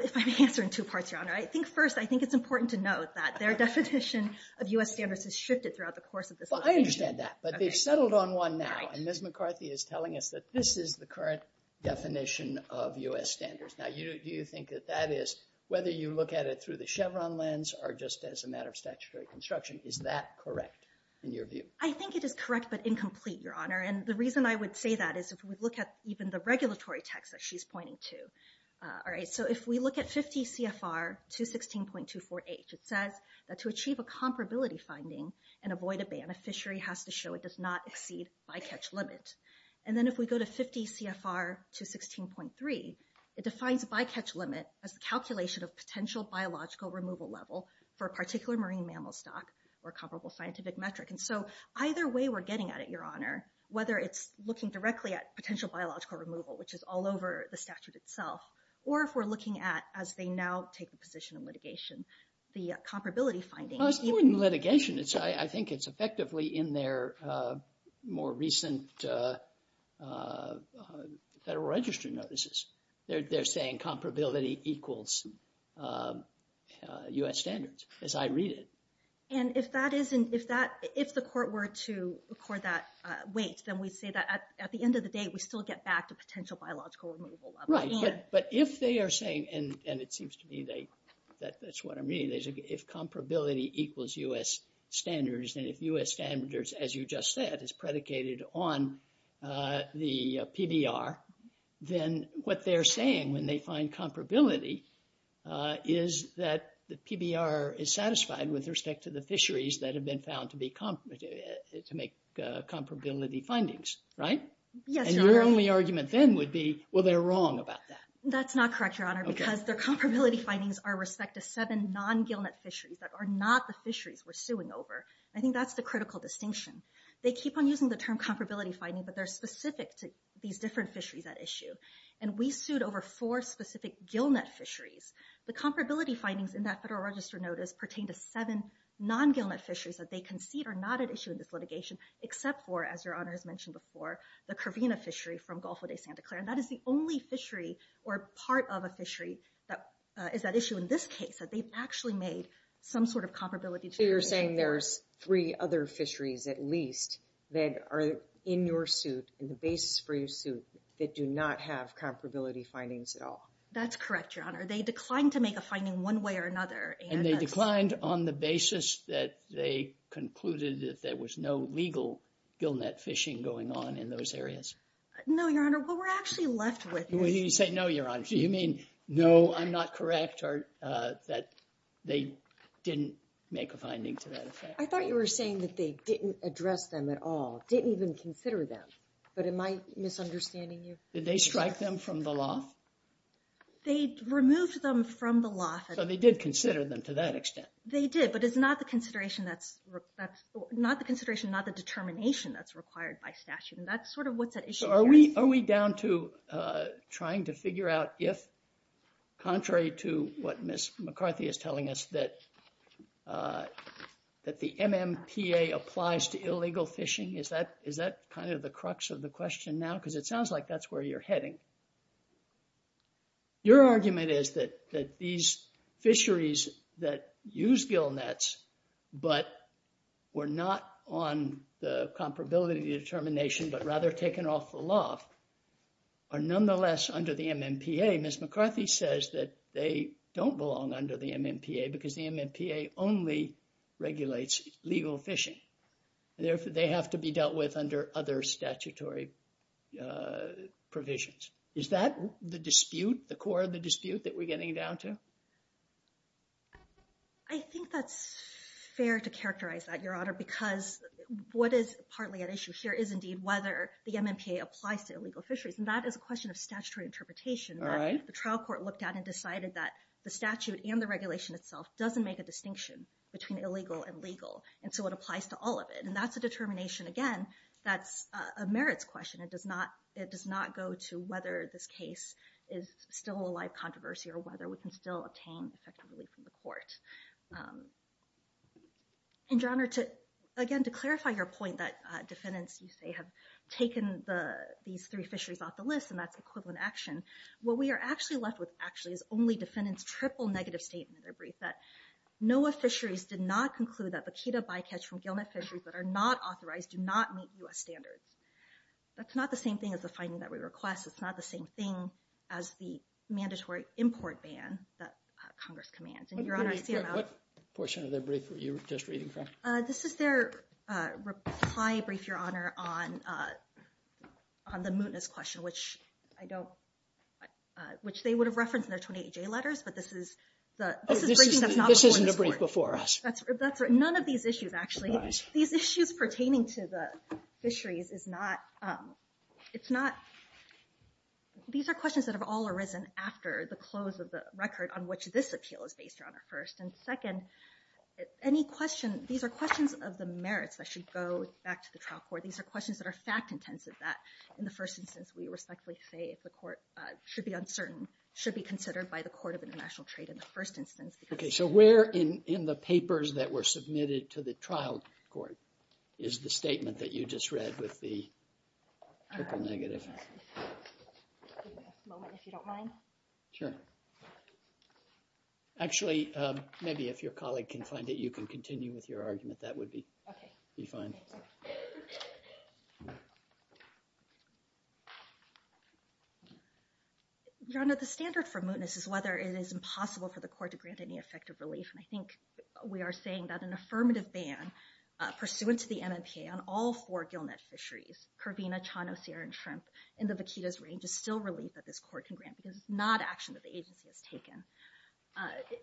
If I may answer in two parts, Your Honor. First, I think it's important to note that their definition of U.S. standards has shifted throughout the course of this discussion. I understand that, but they've settled on one now, and Ms. McCarthy is telling us that this is the current definition of U.S. standards. Now, do you think that that is – whether you look at it through the Chevron lens or just as a matter of statutory construction, is that correct in your view? I think it is correct but incomplete, Your Honor. The reason I would say that is if we look at even the regulatory text that she's pointing to. If we look at 50 CFR 216.24H, it says that to achieve a comparability finding and avoid a ban, a fishery has to show it does not exceed bycatch limit. Then if we go to 50 CFR 216.3, it defines bycatch limit as calculation of potential biological removal level for a particular marine mammal stock or comparable scientific metric. So either way we're getting at it, Your Honor, whether it's looking directly at potential biological removal, which is all over the statute itself, or if we're looking at, as they now take the position of litigation, the comparability findings. Even litigation, I think it's effectively in their more recent Federal Register notices. They're saying comparability equals U.S. standards as I read it. If the court were to record that weight, then we'd say that at the end of the day, we still get back to potential biological removal level. Right, but if they are saying, and it seems to me that's what I mean, if comparability equals U.S. standards and if U.S. standards, as you just said, is predicated on the PBR, then what they're saying when they find comparability is that the PBR is satisfied with respect to the fisheries that have been found to make comparability findings, right? And your only argument then would be, well, they're wrong about that. That's not correct, Your Honor, because their comparability findings are respect to seven non-gillnet fisheries that are not the fisheries we're suing over. I think that's the critical distinction. They keep on using the term comparability findings, but they're specific to these different fisheries at issue. And we sued over four specific gillnet fisheries. The comparability findings in that Federal Register notice pertain to seven non-gillnet fisheries that they concede are not at issue in this litigation, except for, as Your Honor has mentioned before, the Corvina fishery from Gulf of Santa Clara. And that is the only fishery or part of a fishery that is at issue in this case that they've actually made some sort of comparability to. So you're saying there's three other fisheries at least that are in your suit and the basis for your suit that do not have comparability findings at all? That's correct, Your Honor. They declined to make a finding one way or another. And they declined on the basis that they concluded that there was no legal gillnet fishing going on in those areas? No, Your Honor. What we're actually left with is... When you say no, Your Honor, do you mean no, I'm not correct, or that they didn't make a finding to that effect? I thought you were saying that they didn't address them at all, didn't even consider them. But am I misunderstanding you? Did they strike them from the law? They removed them from the law. So they did consider them to that extent? They did, but it's not the consideration, not the determination that's required by statute. And that's sort of what the issue here is. So are we down to trying to figure out if, contrary to what Ms. McCarthy is telling us, that the MMPA applies to illegal fishing? Is that kind of the crux of the question now? Because it sounds like that's where you're heading. Your argument is that these fisheries that use gillnets, but were not on the comparability determination, but rather taken off the loft, are nonetheless under the MMPA. Ms. McCarthy says that they don't belong under the MMPA because the MMPA only regulates legal fishing. They have to be dealt with under other statutory provisions. Is that the dispute, the core of the dispute that we're getting down to? I think that's fair to characterize that, Your Honor, because what is partly at issue here is indeed whether the MMPA applies to illegal fisheries. And that is a question of statutory interpretation. The trial court looked at and decided that the statute and the regulation itself doesn't make a distinction between illegal and legal, and so it applies to all of it. And that's a determination, again, that's a merits question. It does not go to whether this case is still a live controversy, or whether we can still obtain effective release from the court. And, Your Honor, again, to clarify your point that defendants, you say, have taken these three fisheries off the list, and that's equivalent action. What we are actually left with, actually, is only defendants' triple negative statement. No fisheries did not conclude that the PETA bycatch from Gilman fisheries that are not authorized do not meet U.S. standards. That's not the same thing as the finding that we request. It's not the same thing as the mandatory import ban that Congress commands. What portion of that brief were you just reading from? This is their reply brief, Your Honor, on the mootness question, which they would have referenced in their 28-J letters, but this is the brief before us. None of these issues, actually. These issues pertaining to the fisheries is not – these are questions that have all arisen after the close of the record on which this appeal is based on at first. And, second, any questions – these are questions of the merits that should go back to the trial court. These are questions that are fact-intensive, that in the first instance we respectfully say the court should be uncertain, should be considered by the Court of International Trade in the first instance. Okay, so where in the papers that were submitted to the trial court is the statement that you just read with the triple negative? I'll give you a moment if you don't mind. Sure. Actually, maybe if your colleague can find it, you can continue with your argument. That would be fine. Thank you. John, the standard for mootness is whether it is impossible for the court to grant any effective relief. And I think we are saying that an affirmative ban, pursuant to the MMPA on all four gillnet fisheries – Corvina, Chano, Sierra, and Shrimp – in the vaquitas range is still relief that this court can grant. This is not action that the agency has taken.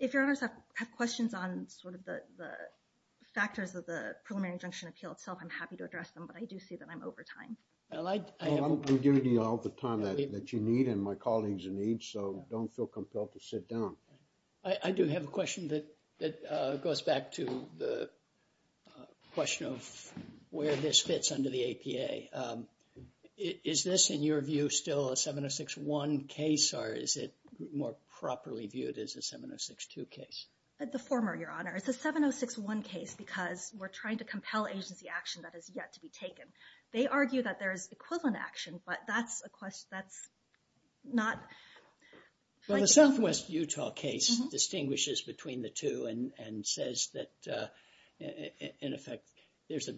If your honors have questions on sort of the factors because of the preliminary injunction appeal itself, I'm happy to address them, but I do see that I'm over time. I'm giving you all the time that you need and my colleagues need, so don't feel compelled to sit down. I do have a question that goes back to the question of where this fits under the APA. Is this, in your view, still a 706-1 case or is it more properly viewed as a 706-2 case? It's a former, Your Honor. It's a 706-1 case because we're trying to compel agency action that has yet to be taken. They argue that there is equivalent action, but that's not – Well, the southwest Utah case distinguishes between the two and says that, in effect, there's a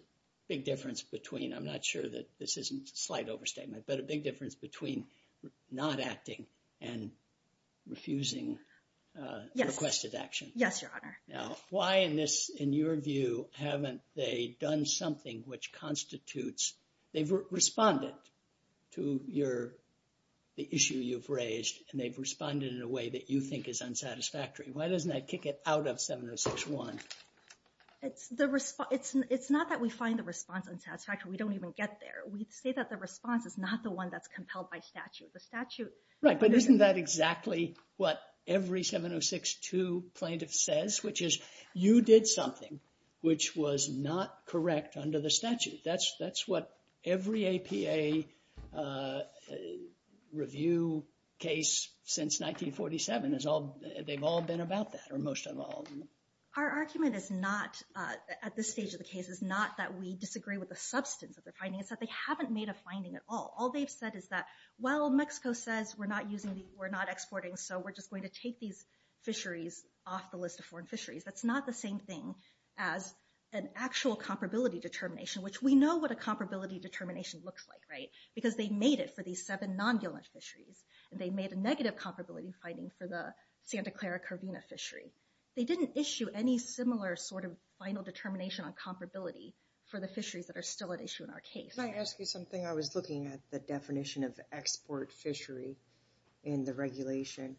big difference between – I'm not sure that this is a slight overstatement – but a big difference between not acting and refusing requested action. Yes, Your Honor. Now, why in this, in your view, haven't they done something which constitutes – they've responded to the issue you've raised and they've responded in a way that you think is unsatisfactory. Why doesn't that kick it out of 706-1? It's not that we find the response unsatisfactory. We don't even get there. We say that the response is not the one that's compelled by statute. Right, but isn't that exactly what every 706-2 plaintiff says, which is you did something which was not correct under the statute. That's what every APA review case since 1947, they've all been about that, or most of all. Our argument is not, at this stage of the case, is not that we disagree with the substance of the finding. It's that they haven't made a finding at all. All they've said is that, well, Mexico says we're not using these, we're not exporting, so we're just going to take these fisheries off the list of foreign fisheries. That's not the same thing as an actual comparability determination, which we know what a comparability determination looks like, right, because they made it for these seven non-violence fisheries, and they made a negative comparability finding for the Santa Clara Curvina fishery. They didn't issue any similar sort of final determination on comparability for the fisheries that are still at issue in our case. Can I ask you something? I was looking at the definition of export fishery in the regulation,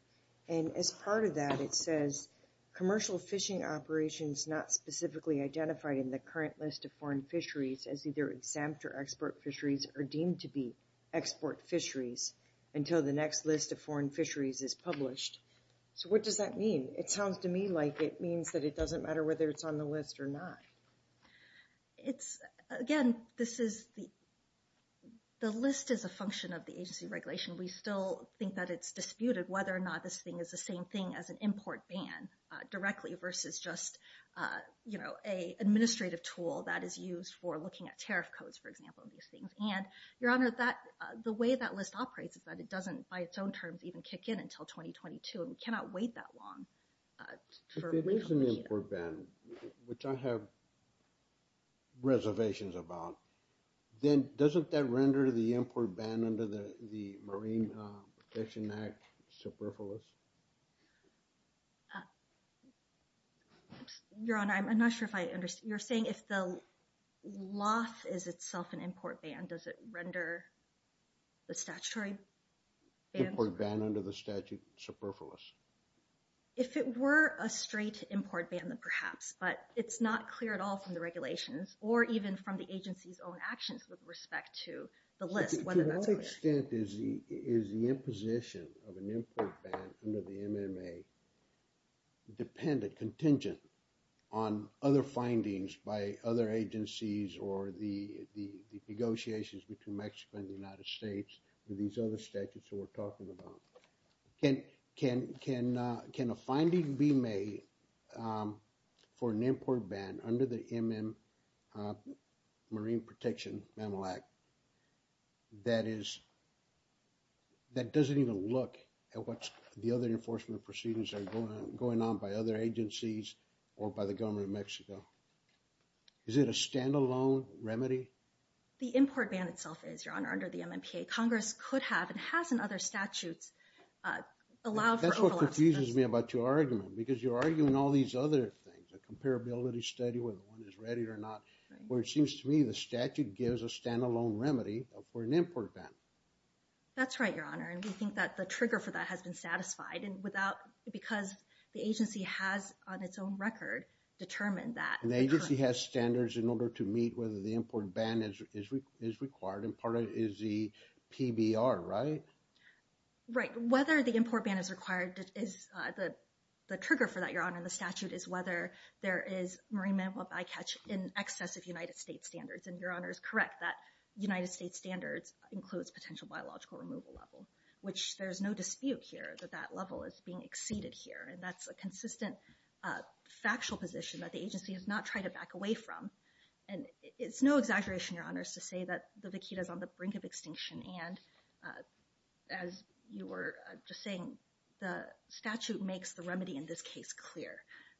and as part of that it says commercial fishing operations not specifically identified in the current list of foreign fisheries as either exempt or export fisheries are deemed to be export fisheries until the next list of foreign fisheries is published. So what does that mean? It sounds to me like it means that it doesn't matter whether it's on the list or not. Again, the list is a function of the agency regulation. We still think that it's disputed whether or not this thing is the same thing as an import ban directly versus just an administrative tool that is used for looking at tariff codes, for example. And, Your Honor, the way that list operates is that it doesn't by its own terms even kick in until 2022, and we cannot wait that long. If it is an import ban, which I have reservations about, then doesn't that render the import ban under the Marine Protection Act superfluous? Your Honor, I'm not sure if I understand. You're saying if the loss is itself an import ban, does it render the statutory? Import ban under the statute superfluous. If it were a straight import ban, then perhaps, but it's not clear at all from the regulations or even from the agency's own actions with respect to the list. To what extent is the imposition of an import ban under the MMA contingent on other findings by other agencies or the negotiations between Mexico and the United States and these other statutes that we're talking about? Can a finding be made for an import ban under the Marine Protection Act that doesn't even look at what the other enforcement proceedings are going on by other agencies or by the government of Mexico? Is it a standalone remedy? The import ban itself is, Your Honor, under the MMPA. Congress could have and has in other statutes allow for overlap. That's what confuses me about your argument because you're arguing all these other things, the comparability study, whether one is ready or not, where it seems to me the statute gives a standalone remedy for an import ban. That's right, Your Honor. We think that the trigger for that has been satisfied because the agency has, on its own record, determined that. An agency has standards in order to meet whether the import ban is required and part of it is the PBR, right? Right, whether the import ban is required is the trigger for that, Your Honor. The statute is whether there is marine mammal bycatch in excess of United States standards. And Your Honor is correct that United States standards includes potential biological removal level, which there's no dispute here that that level is being exceeded here. And that's a consistent factual position that the agency has not tried to back away from. And it's no exaggeration, Your Honor, to say that the vaquita is on the brink of extinction and as you were just saying, the statute makes the remedy in this case clear.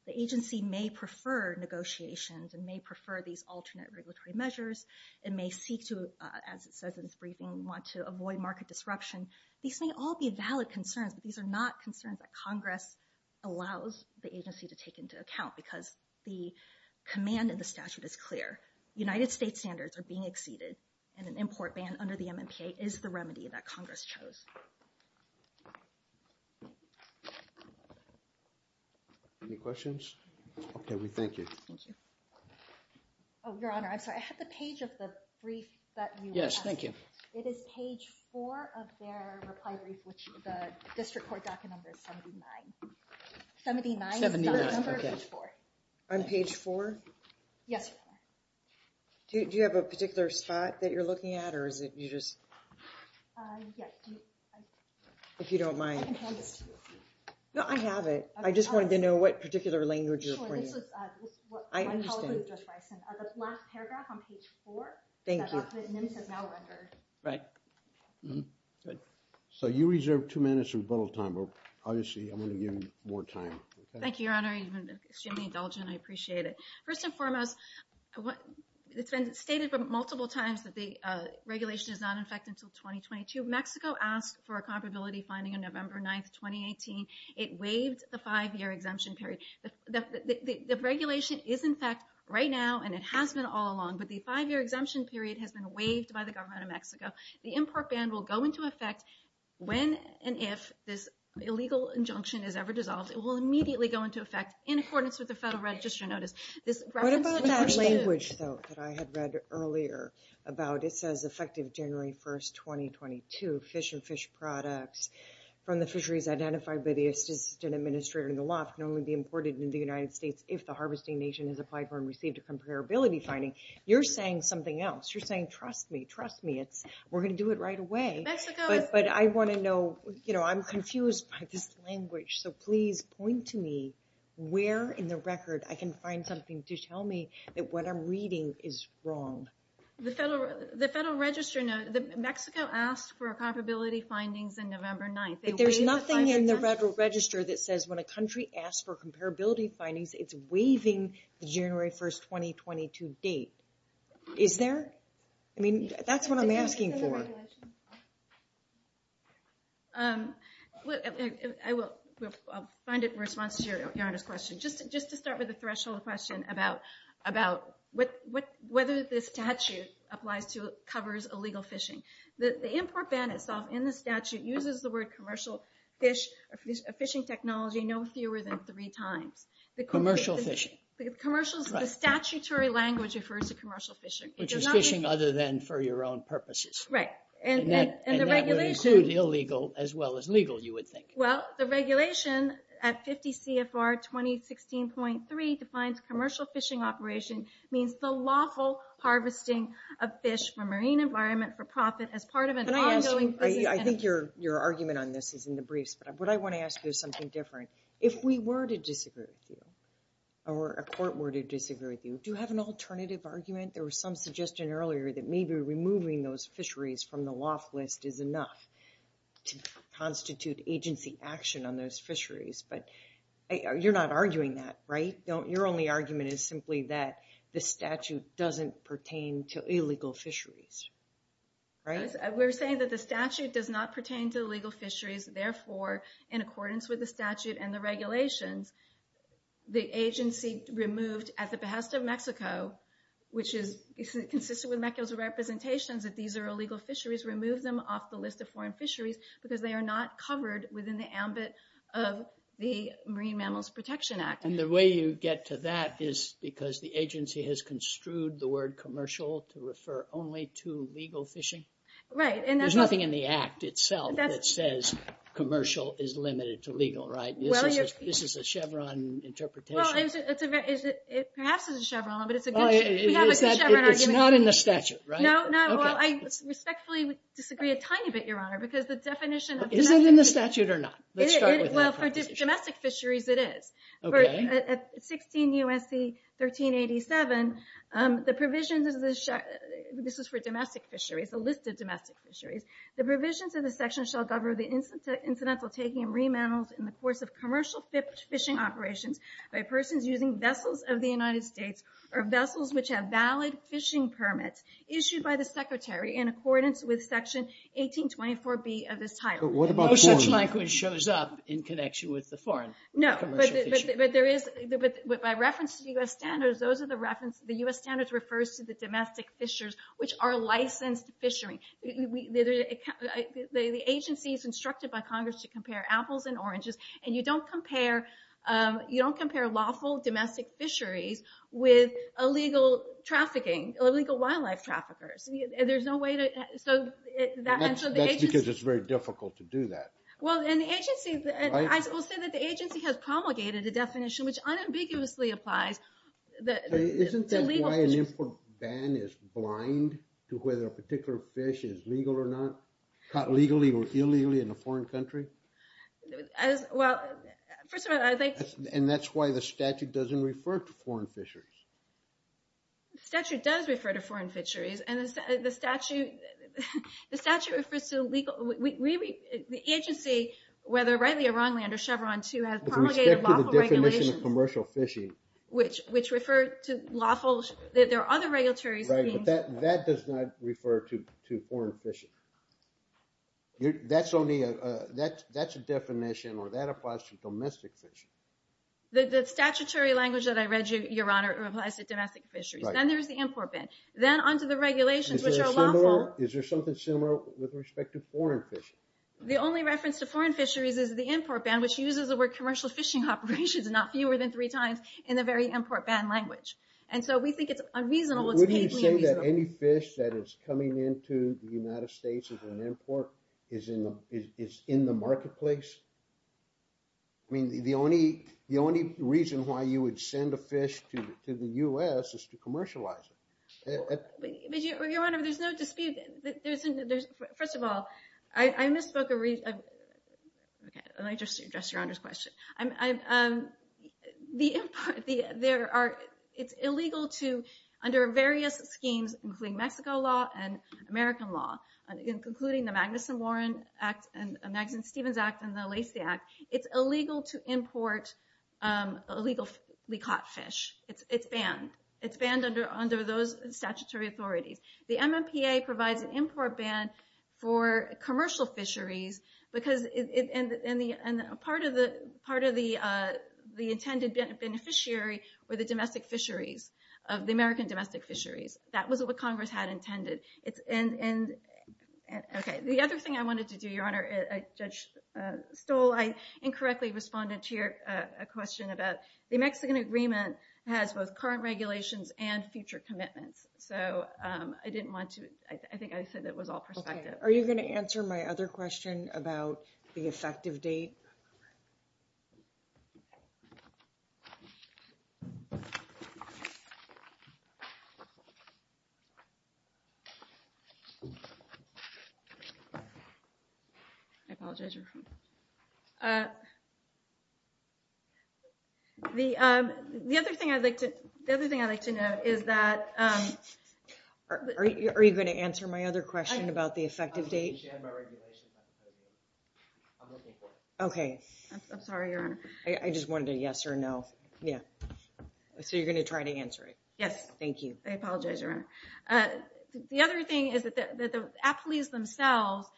The agency may prefer negotiations and may prefer these alternate regulatory measures and may seek to, as it says in its briefing, want to avoid market disruption. These may all be valid concerns. These are not concerns that Congress allows the agency to take into account because the command in the statute is clear. United States standards are being exceeded and an import ban under the MMPA is the remedy that Congress chose. Any questions? Okay, we thank you. Oh, Your Honor, I'm sorry. I have the page of the brief that you have. Yes, thank you. It is page four of their reprimand which is the district court document number 79. 79 is the number of page four. On page four? Yes. Do you have a particular spot that you're looking at or is it you just... Yes. If you don't mind. No, I have it. I just wanted to know what particular language you're pointing at. I apologize. The last paragraph on page four. Thank you. Right. So you reserve two minutes for both, Tom. Obviously, I'm going to give you more time. Thank you, Your Honor. You've been extremely indulgent. I appreciate it. First and foremost, it's been stated multiple times that the regulation is not in effect until 2022. Mexico asked for a comparability finding on November 9th, 2018. It waived the five-year exemption period. The regulation is in effect right now and it has been all along, but the five-year exemption period has been waived by the government of Mexico. The import ban will go into effect when and if this illegal injunction is ever dissolved. It will immediately go into effect in accordance with the Federal Register notice. What about that language, though, that I had read earlier about it says effective January 1st, 2022, fish and fish products from the fisheries identified by the Assistant Administrator in the loft can only be imported into the United States if the harvesting nation has applied for and received a comparability finding. You're saying something else. You're saying, trust me, trust me. We're going to do it right away. But I want to know, you know, I'm confused by this language. So please point to me where in the record I can find something to tell me that what I'm reading is wrong. The Federal Register notice, Mexico asked for comparability findings on November 9th. There's nothing in the Federal Register that says when a country asks for comparability findings, it's waiving the January 1st, 2022 date. Is there? I mean, that's what I'm asking for. I will find it in response to your question. Just to start with a threshold question about whether this statute applies to, covers illegal fishing. The import ban itself in the statute uses the word commercial fish, a fishing technology no fewer than three times. Commercial fishing. The statutory language refers to commercial fishing. It's fishing other than for your own purposes. Right. And that would be sued illegal as well as legal, you would think. Well, the regulation at 50 CFR 2016.3 defines commercial fishing operation means the lawful harvesting of fish for marine environment for profit as part of an ongoing... I think your argument on this is in the briefs. What I want to ask you is something different. If we were to disagree with you, or a court were to disagree with you, do you have an alternative argument? There was some suggestion earlier that maybe removing those fisheries from the loft list is enough to constitute agency action on those fisheries. But you're not arguing that, right? Your only argument is simply that the statute doesn't pertain to illegal fisheries. Right? We're saying that the statute does not pertain to illegal fisheries. Therefore, in accordance with the statute and the regulation, the agency removed at the behest of Mexico, which is consistent with Mexico's representation that these are illegal fisheries, removed them off the list of foreign fisheries because they are not covered within the ambit of the Marine Mammals Protection Act. And the way you get to that is because the agency has construed the word commercial to refer only to legal fishing? Right. There's nothing in the act itself that says commercial is limited to legal, right? This is a Chevron interpretation. Perhaps it's a Chevron, but it's a good Chevron argument. It's not in the statute, right? No. Well, I respectfully disagree a tiny bit, Your Honor, because the definition of... Is it in the statute or not? Well, for domestic fisheries, it is. At 16 U.S.C. 1387, the provision of the... This is for domestic fisheries, a list of domestic fisheries. The provisions of the section shall govern the incidental taking of remandals in the course of commercial fishing operations by persons using vessels of the United States or vessels which have valid fishing permits issued by the secretary in accordance with section 1824B of this title. But what about... No such title shows up in connection with the foreign commercial fisheries. No, but there is... But by reference to the U.S. standards, those are the reference... The U.S. standards refers to the domestic fisheries, which are licensed fisheries. The agency is instructed by Congress to compare apples and oranges, and you don't compare... You don't compare lawful domestic fisheries with illegal trafficking, illegal wildlife traffickers. There's no way that... That's because it's very difficult to do that. Well, and the agency... I will say that the agency has promulgated a definition which unambiguously applies that... Isn't that why an import ban is blind to whether a particular fish is legal or not, caught legally or illegally in a foreign country? Well, first of all, as I... And that's why the statute doesn't refer to foreign fisheries. The statute does refer to foreign fisheries, and the statute... The statute refers to legal... Really, the agency, whether rightly or wrongly under Chevron 2, has promulgated lawful regulations... With respect to the definition of commercial fishing... Which refers to lawful... There are other regulatory... Right, but that does not refer to foreign fishing. That's only a... That's a definition, or that applies to domestic fishing. The statutory language that I read, Your Honor, applies to domestic fisheries. Then there's the import ban. Then onto the regulations, which are lawful... Is there something similar with respect to foreign fishing? The only reference to foreign fisheries is the import ban, which uses the word commercial fishing operations not fewer than three times in the very import ban language. And so we think it's unreasonable... Would you say that any fish that is coming into the United States as an import is in the marketplace? I mean, the only reason why you would send a fish to the U.S. is to commercialize it. Your Honor, there's no dispute. There's... First of all, I misspoke a reason... Let me just address Your Honor's question. It's illegal to, under various schemes, including Mexico law and American law, including the Magnuson-Warren Act and the Magnuson-Stevens Act and the Lacey Act, it's illegal to import illegally caught fish. It's banned. It's banned under those statutory authorities. The MMPA provides an import ban for commercial fisheries because part of the intended beneficiary were the domestic fisheries, the American domestic fisheries. That was what Congress had intended. And... Okay, the other thing I wanted to do, Your Honor, Judge Stoll, I incorrectly responded to your question about the Mexican agreement has both current regulations and future commitments. So I didn't want to... I think I said that was all perspective. Are you going to answer my other question about the effective date? I apologize, Your Honor. The other thing I'd like to know is that... Are you going to answer my other question about the effective date? Okay. I'm sorry, Your Honor. I just wanted a yes or no. Yeah. Yes. Thank you. I apologize, Your Honor. Okay. Thank you, Your Honor. The other thing is that the appellees themselves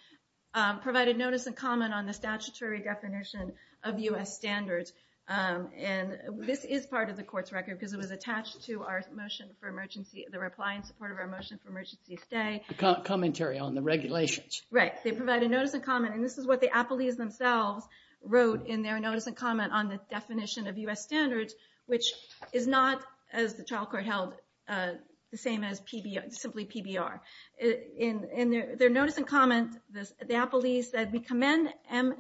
provided notice and comment on the statutory definition of U.S. standards. And this is part of the court's record because it was attached to our motion for emergency, the reply in support of our motion for emergency stay. Commentary on the regulations. Right. They provided notice and comment, and this is what the appellees themselves wrote in their notice and comment on this definition of U.S. standards, which is not, as the trial court held, the same as simply PBR. In their notice and comment, the appellees said, we commend...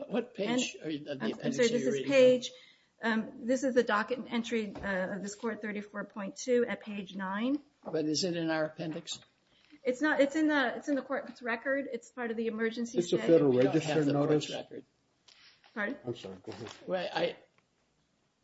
What page? This is the page. This is the docket entry of the Court 34.2 at page 9. Is it in our appendix? It's in the court's record. It's part of the emergency... It's a federal register notice? Sorry? I'm sorry. Go ahead.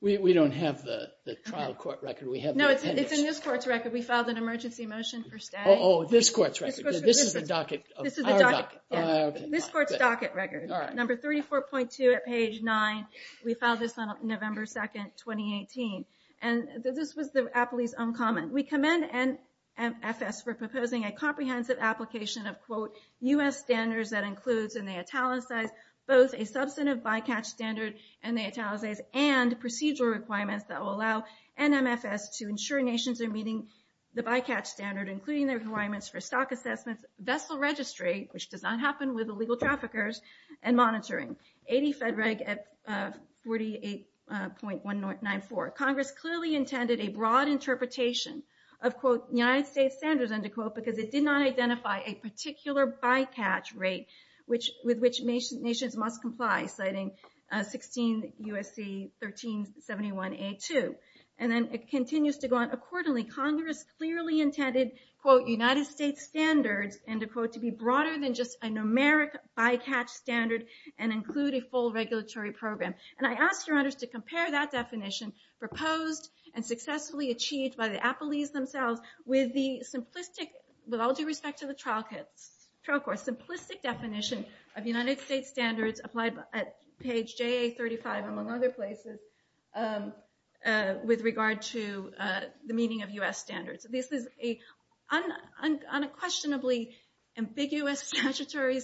We don't have the trial court record. We have the appendix. It's in this court's record. We filed an emergency motion for stay. Oh, this court's record. This is the docket. This is the docket. This court's docket record. Number 34.2 at page 9. We filed this on November 2, 2018. And this was the appellee's own comment. We commend NMFS for proposing a comprehensive application of, quote, U.S. standards that includes in the italicized both a substantive by-catch standard in the italicized and procedural requirements that will allow NMFS to ensure nations are meeting the by-catch standard, including their requirements for stock assessments, vessel registry, which does not happen with illegal traffickers, and monitoring. 80 FedReg at 48.194. Congress clearly intended a broad interpretation of, quote, United States standards, under quote, because it did not identify a particular by-catch rate with which nations must comply, citing 16 U.S.C. 1371A2. And then it continues to go on. Accordingly, Congress clearly intended, quote, United States standards, under quote, to be broader than just a numeric by-catch standard and include a full regulatory program. And I ask your honors to compare that definition proposed and successfully achieved by the appellees themselves with the simplistic, with all due respect to the trial court, simplistic definition of United States standards applied at page JA35, among other places, with regard to the meeting of U.S. standards. This is a unquestionably ambiguous statutory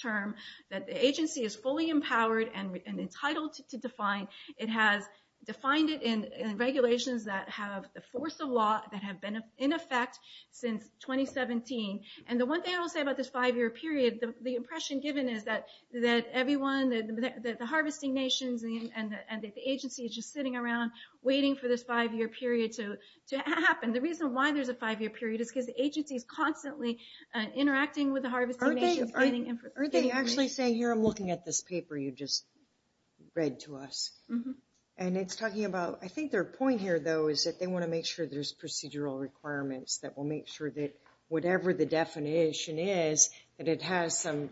term that the agency is fully empowered and entitled to define. It has defined it in regulations that have the force of law that have been in effect since 2017. And the one thing I will say about this five-year period, the impression given is that everyone, the harvesting nations, and the agency is just sitting around waiting for this five-year period to happen. The reason why there's a five-year period is because the agency is constantly interacting with the harvesting nations. They actually say here, I'm looking at this paper you just read to us. And it's talking about, I think their point here, though, is that they want to make sure there's procedural requirements that will make sure that whatever the definition is, that it has some,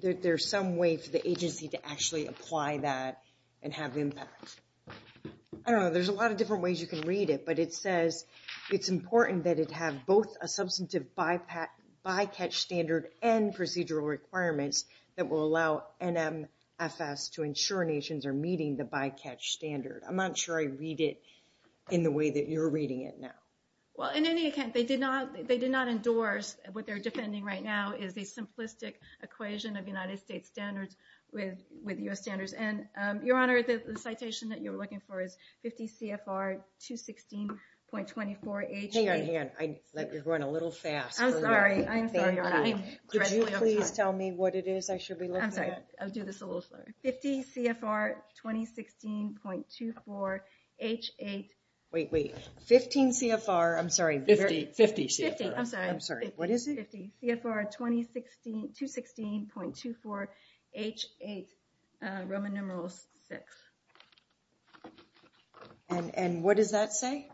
that there's some way for the agency to actually apply that and have impact. I don't know, there's a lot of different ways you can read it, but it says it's important that it have both a substantive bycatch standard and procedural requirements that will allow NMFS to ensure nations are meeting the bycatch standard. I'm not sure I read it in the way that you're reading it now. Well, in any event, they did not endorse what they're defending right now is a simplistic equation of United States standards with U.S. standards. And, Your Honor, the citation that you're looking for is 50 CFR 216.24-H8... Hang on, hang on, you're going a little fast. I'm sorry, I'm sorry, Your Honor. Could you please tell me what it is I should be looking for? I'm sorry, I'll do this a little slower. 50 CFR 2016.24-H8... Wait, wait, 15 CFR, I'm sorry, 50 CFR. I'm sorry, what is it? 50 CFR 216.24-H8 Roman numeral VI. And what does that say?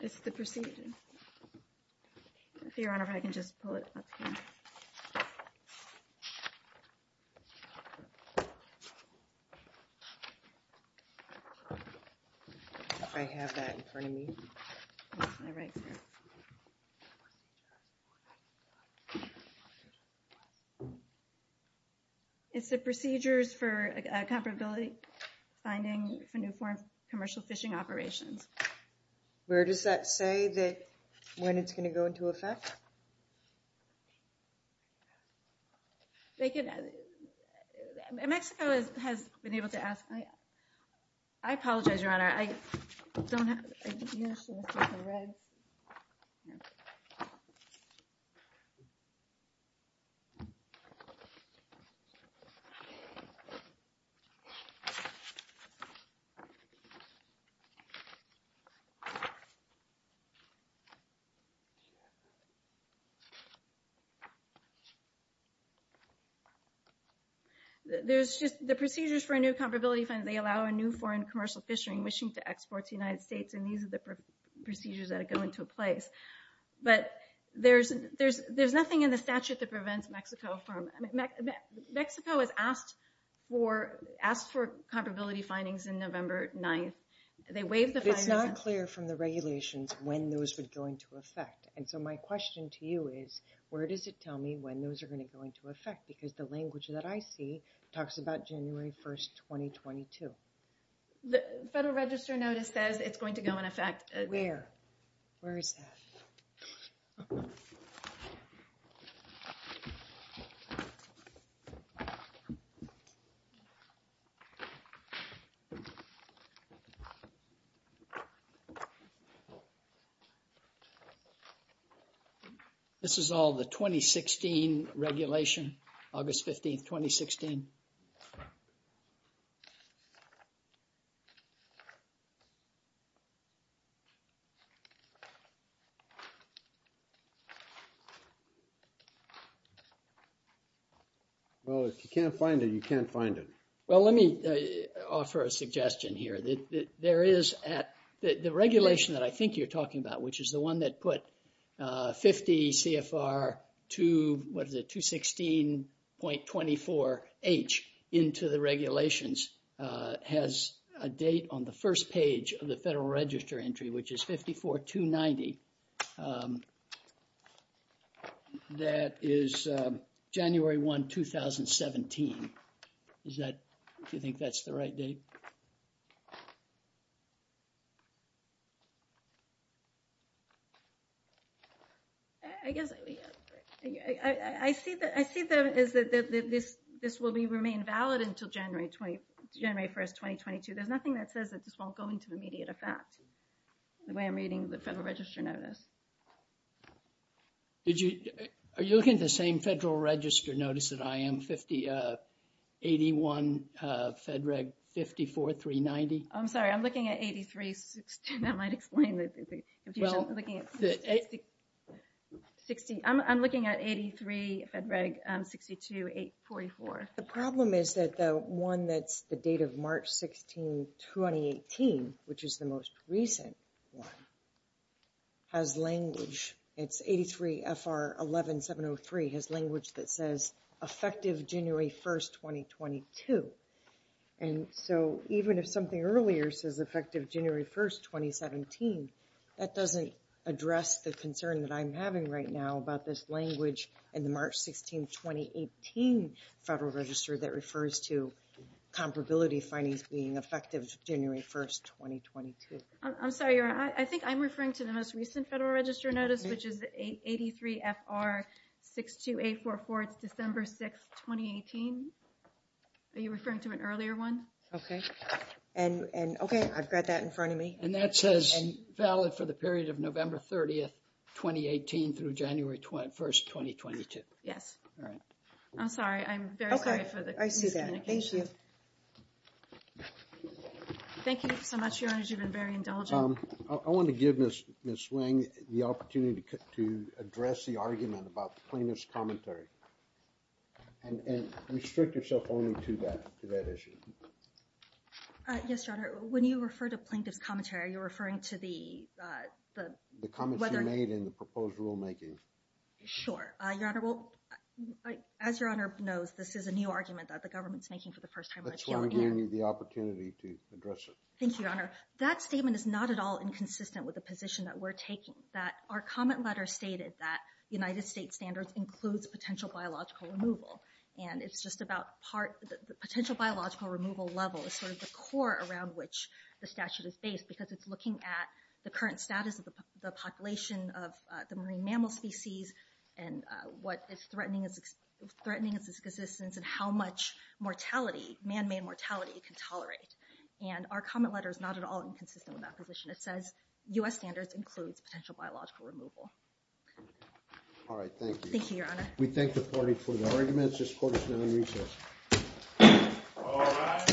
It's the procedure. Let's see, Your Honor, if I can just pull it up here. I have that in front of me. It's the procedures for a comparability finding for new form commercial fishing operations. Where does that say that when it's going to go into effect? Mexico has been able to ask... I apologize, Your Honor, I don't have... There's just... The procedures for a new comparability finding, they allow a new foreign commercial fishing wishing to export to the United States, and these are the procedures that go into place. But there's nothing in the statute that prevents Mexico from... Mexico has asked for comparability findings in November 9th. They waived the findings... It's not clear from the regulations when those would go into effect. And so my question to you is, where does it tell me when those are going to go into effect? Because the language that I see talks about January 1st, 2022. The Federal Register notice says it's going to go into effect... Where? Where is that? This is all the 2016 regulation. August 15th, 2016. Well, if you can't find it, you can't find it. Well, let me offer a suggestion here. There is at... The regulation that I think you're talking about, which is the one that put 50 CFR 2... What is it? 216.24H into the regulations has a date on the first page of the Federal Register entry, which is 54.290. That is January 1, 2017. Is that... Do you think that's the right date? I guess... I see that this will remain valid until January 1, 2022. There's nothing that says that this won't go into immediate effect the way I'm reading the Federal Register notice. Did you... Are you looking at the same Federal Register notice that IM 50... 81 Fed Reg 54.390? I'm sorry. I'm looking at 83. I might explain this. I'm looking at 83 Fed Reg 62.844. The problem is that the one that's the date of March 16, 2018, which is the most recent one, has language. It's 83 FR 11703, has language that says effective January 1, 2022. And so even if something earlier says effective January 1, 2017, that doesn't address the concern that I'm having right now about this language in the March 16, 2018 Federal Register that refers to comparability findings being effective January 1, 2022. I'm sorry. I think I'm referring to the most recent Federal Register notice, which is the 83 FR 62.844, December 6, 2018. Are you referring to an earlier one? Okay. And, okay, I've got that in front of me. And that says valid for the period of November 30, 2018 through January 1, 2022. Yes. All right. I'm sorry. I'm very sorry for the miscommunication. Okay. I can do that. Thank you so much, Your Honor. You've been very indulgent. I want to give Ms. Swing the opportunity to address the argument about the plaintiff's commentary. And restrict yourself only to that issue. Yes, Your Honor. When you refer to plaintiff's commentary, you're referring to the… The comments you made in the proposed rulemaking. Sure. Your Honor, as Your Honor knows, this is a new argument that the government's making for the first time in a few years. That's why we gave you the opportunity to address it. Thank you, Your Honor. That statement is not at all inconsistent with the position that we're taking, that our comment letter stated that the United States standards includes potential biological removal. And it's just about part… The potential biological removal level is sort of the core around which the statute is based because it's looking at the current status of the population of the marine mammal species and what is threatening its existence and how much mortality, man-made mortality, it can tolerate. And our comment letter is not at all inconsistent with that position. It says U.S. standards include potential biological removal. All right. Thank you. Thank you, Your Honor. We thank the party for their arguments. This court is now recessed.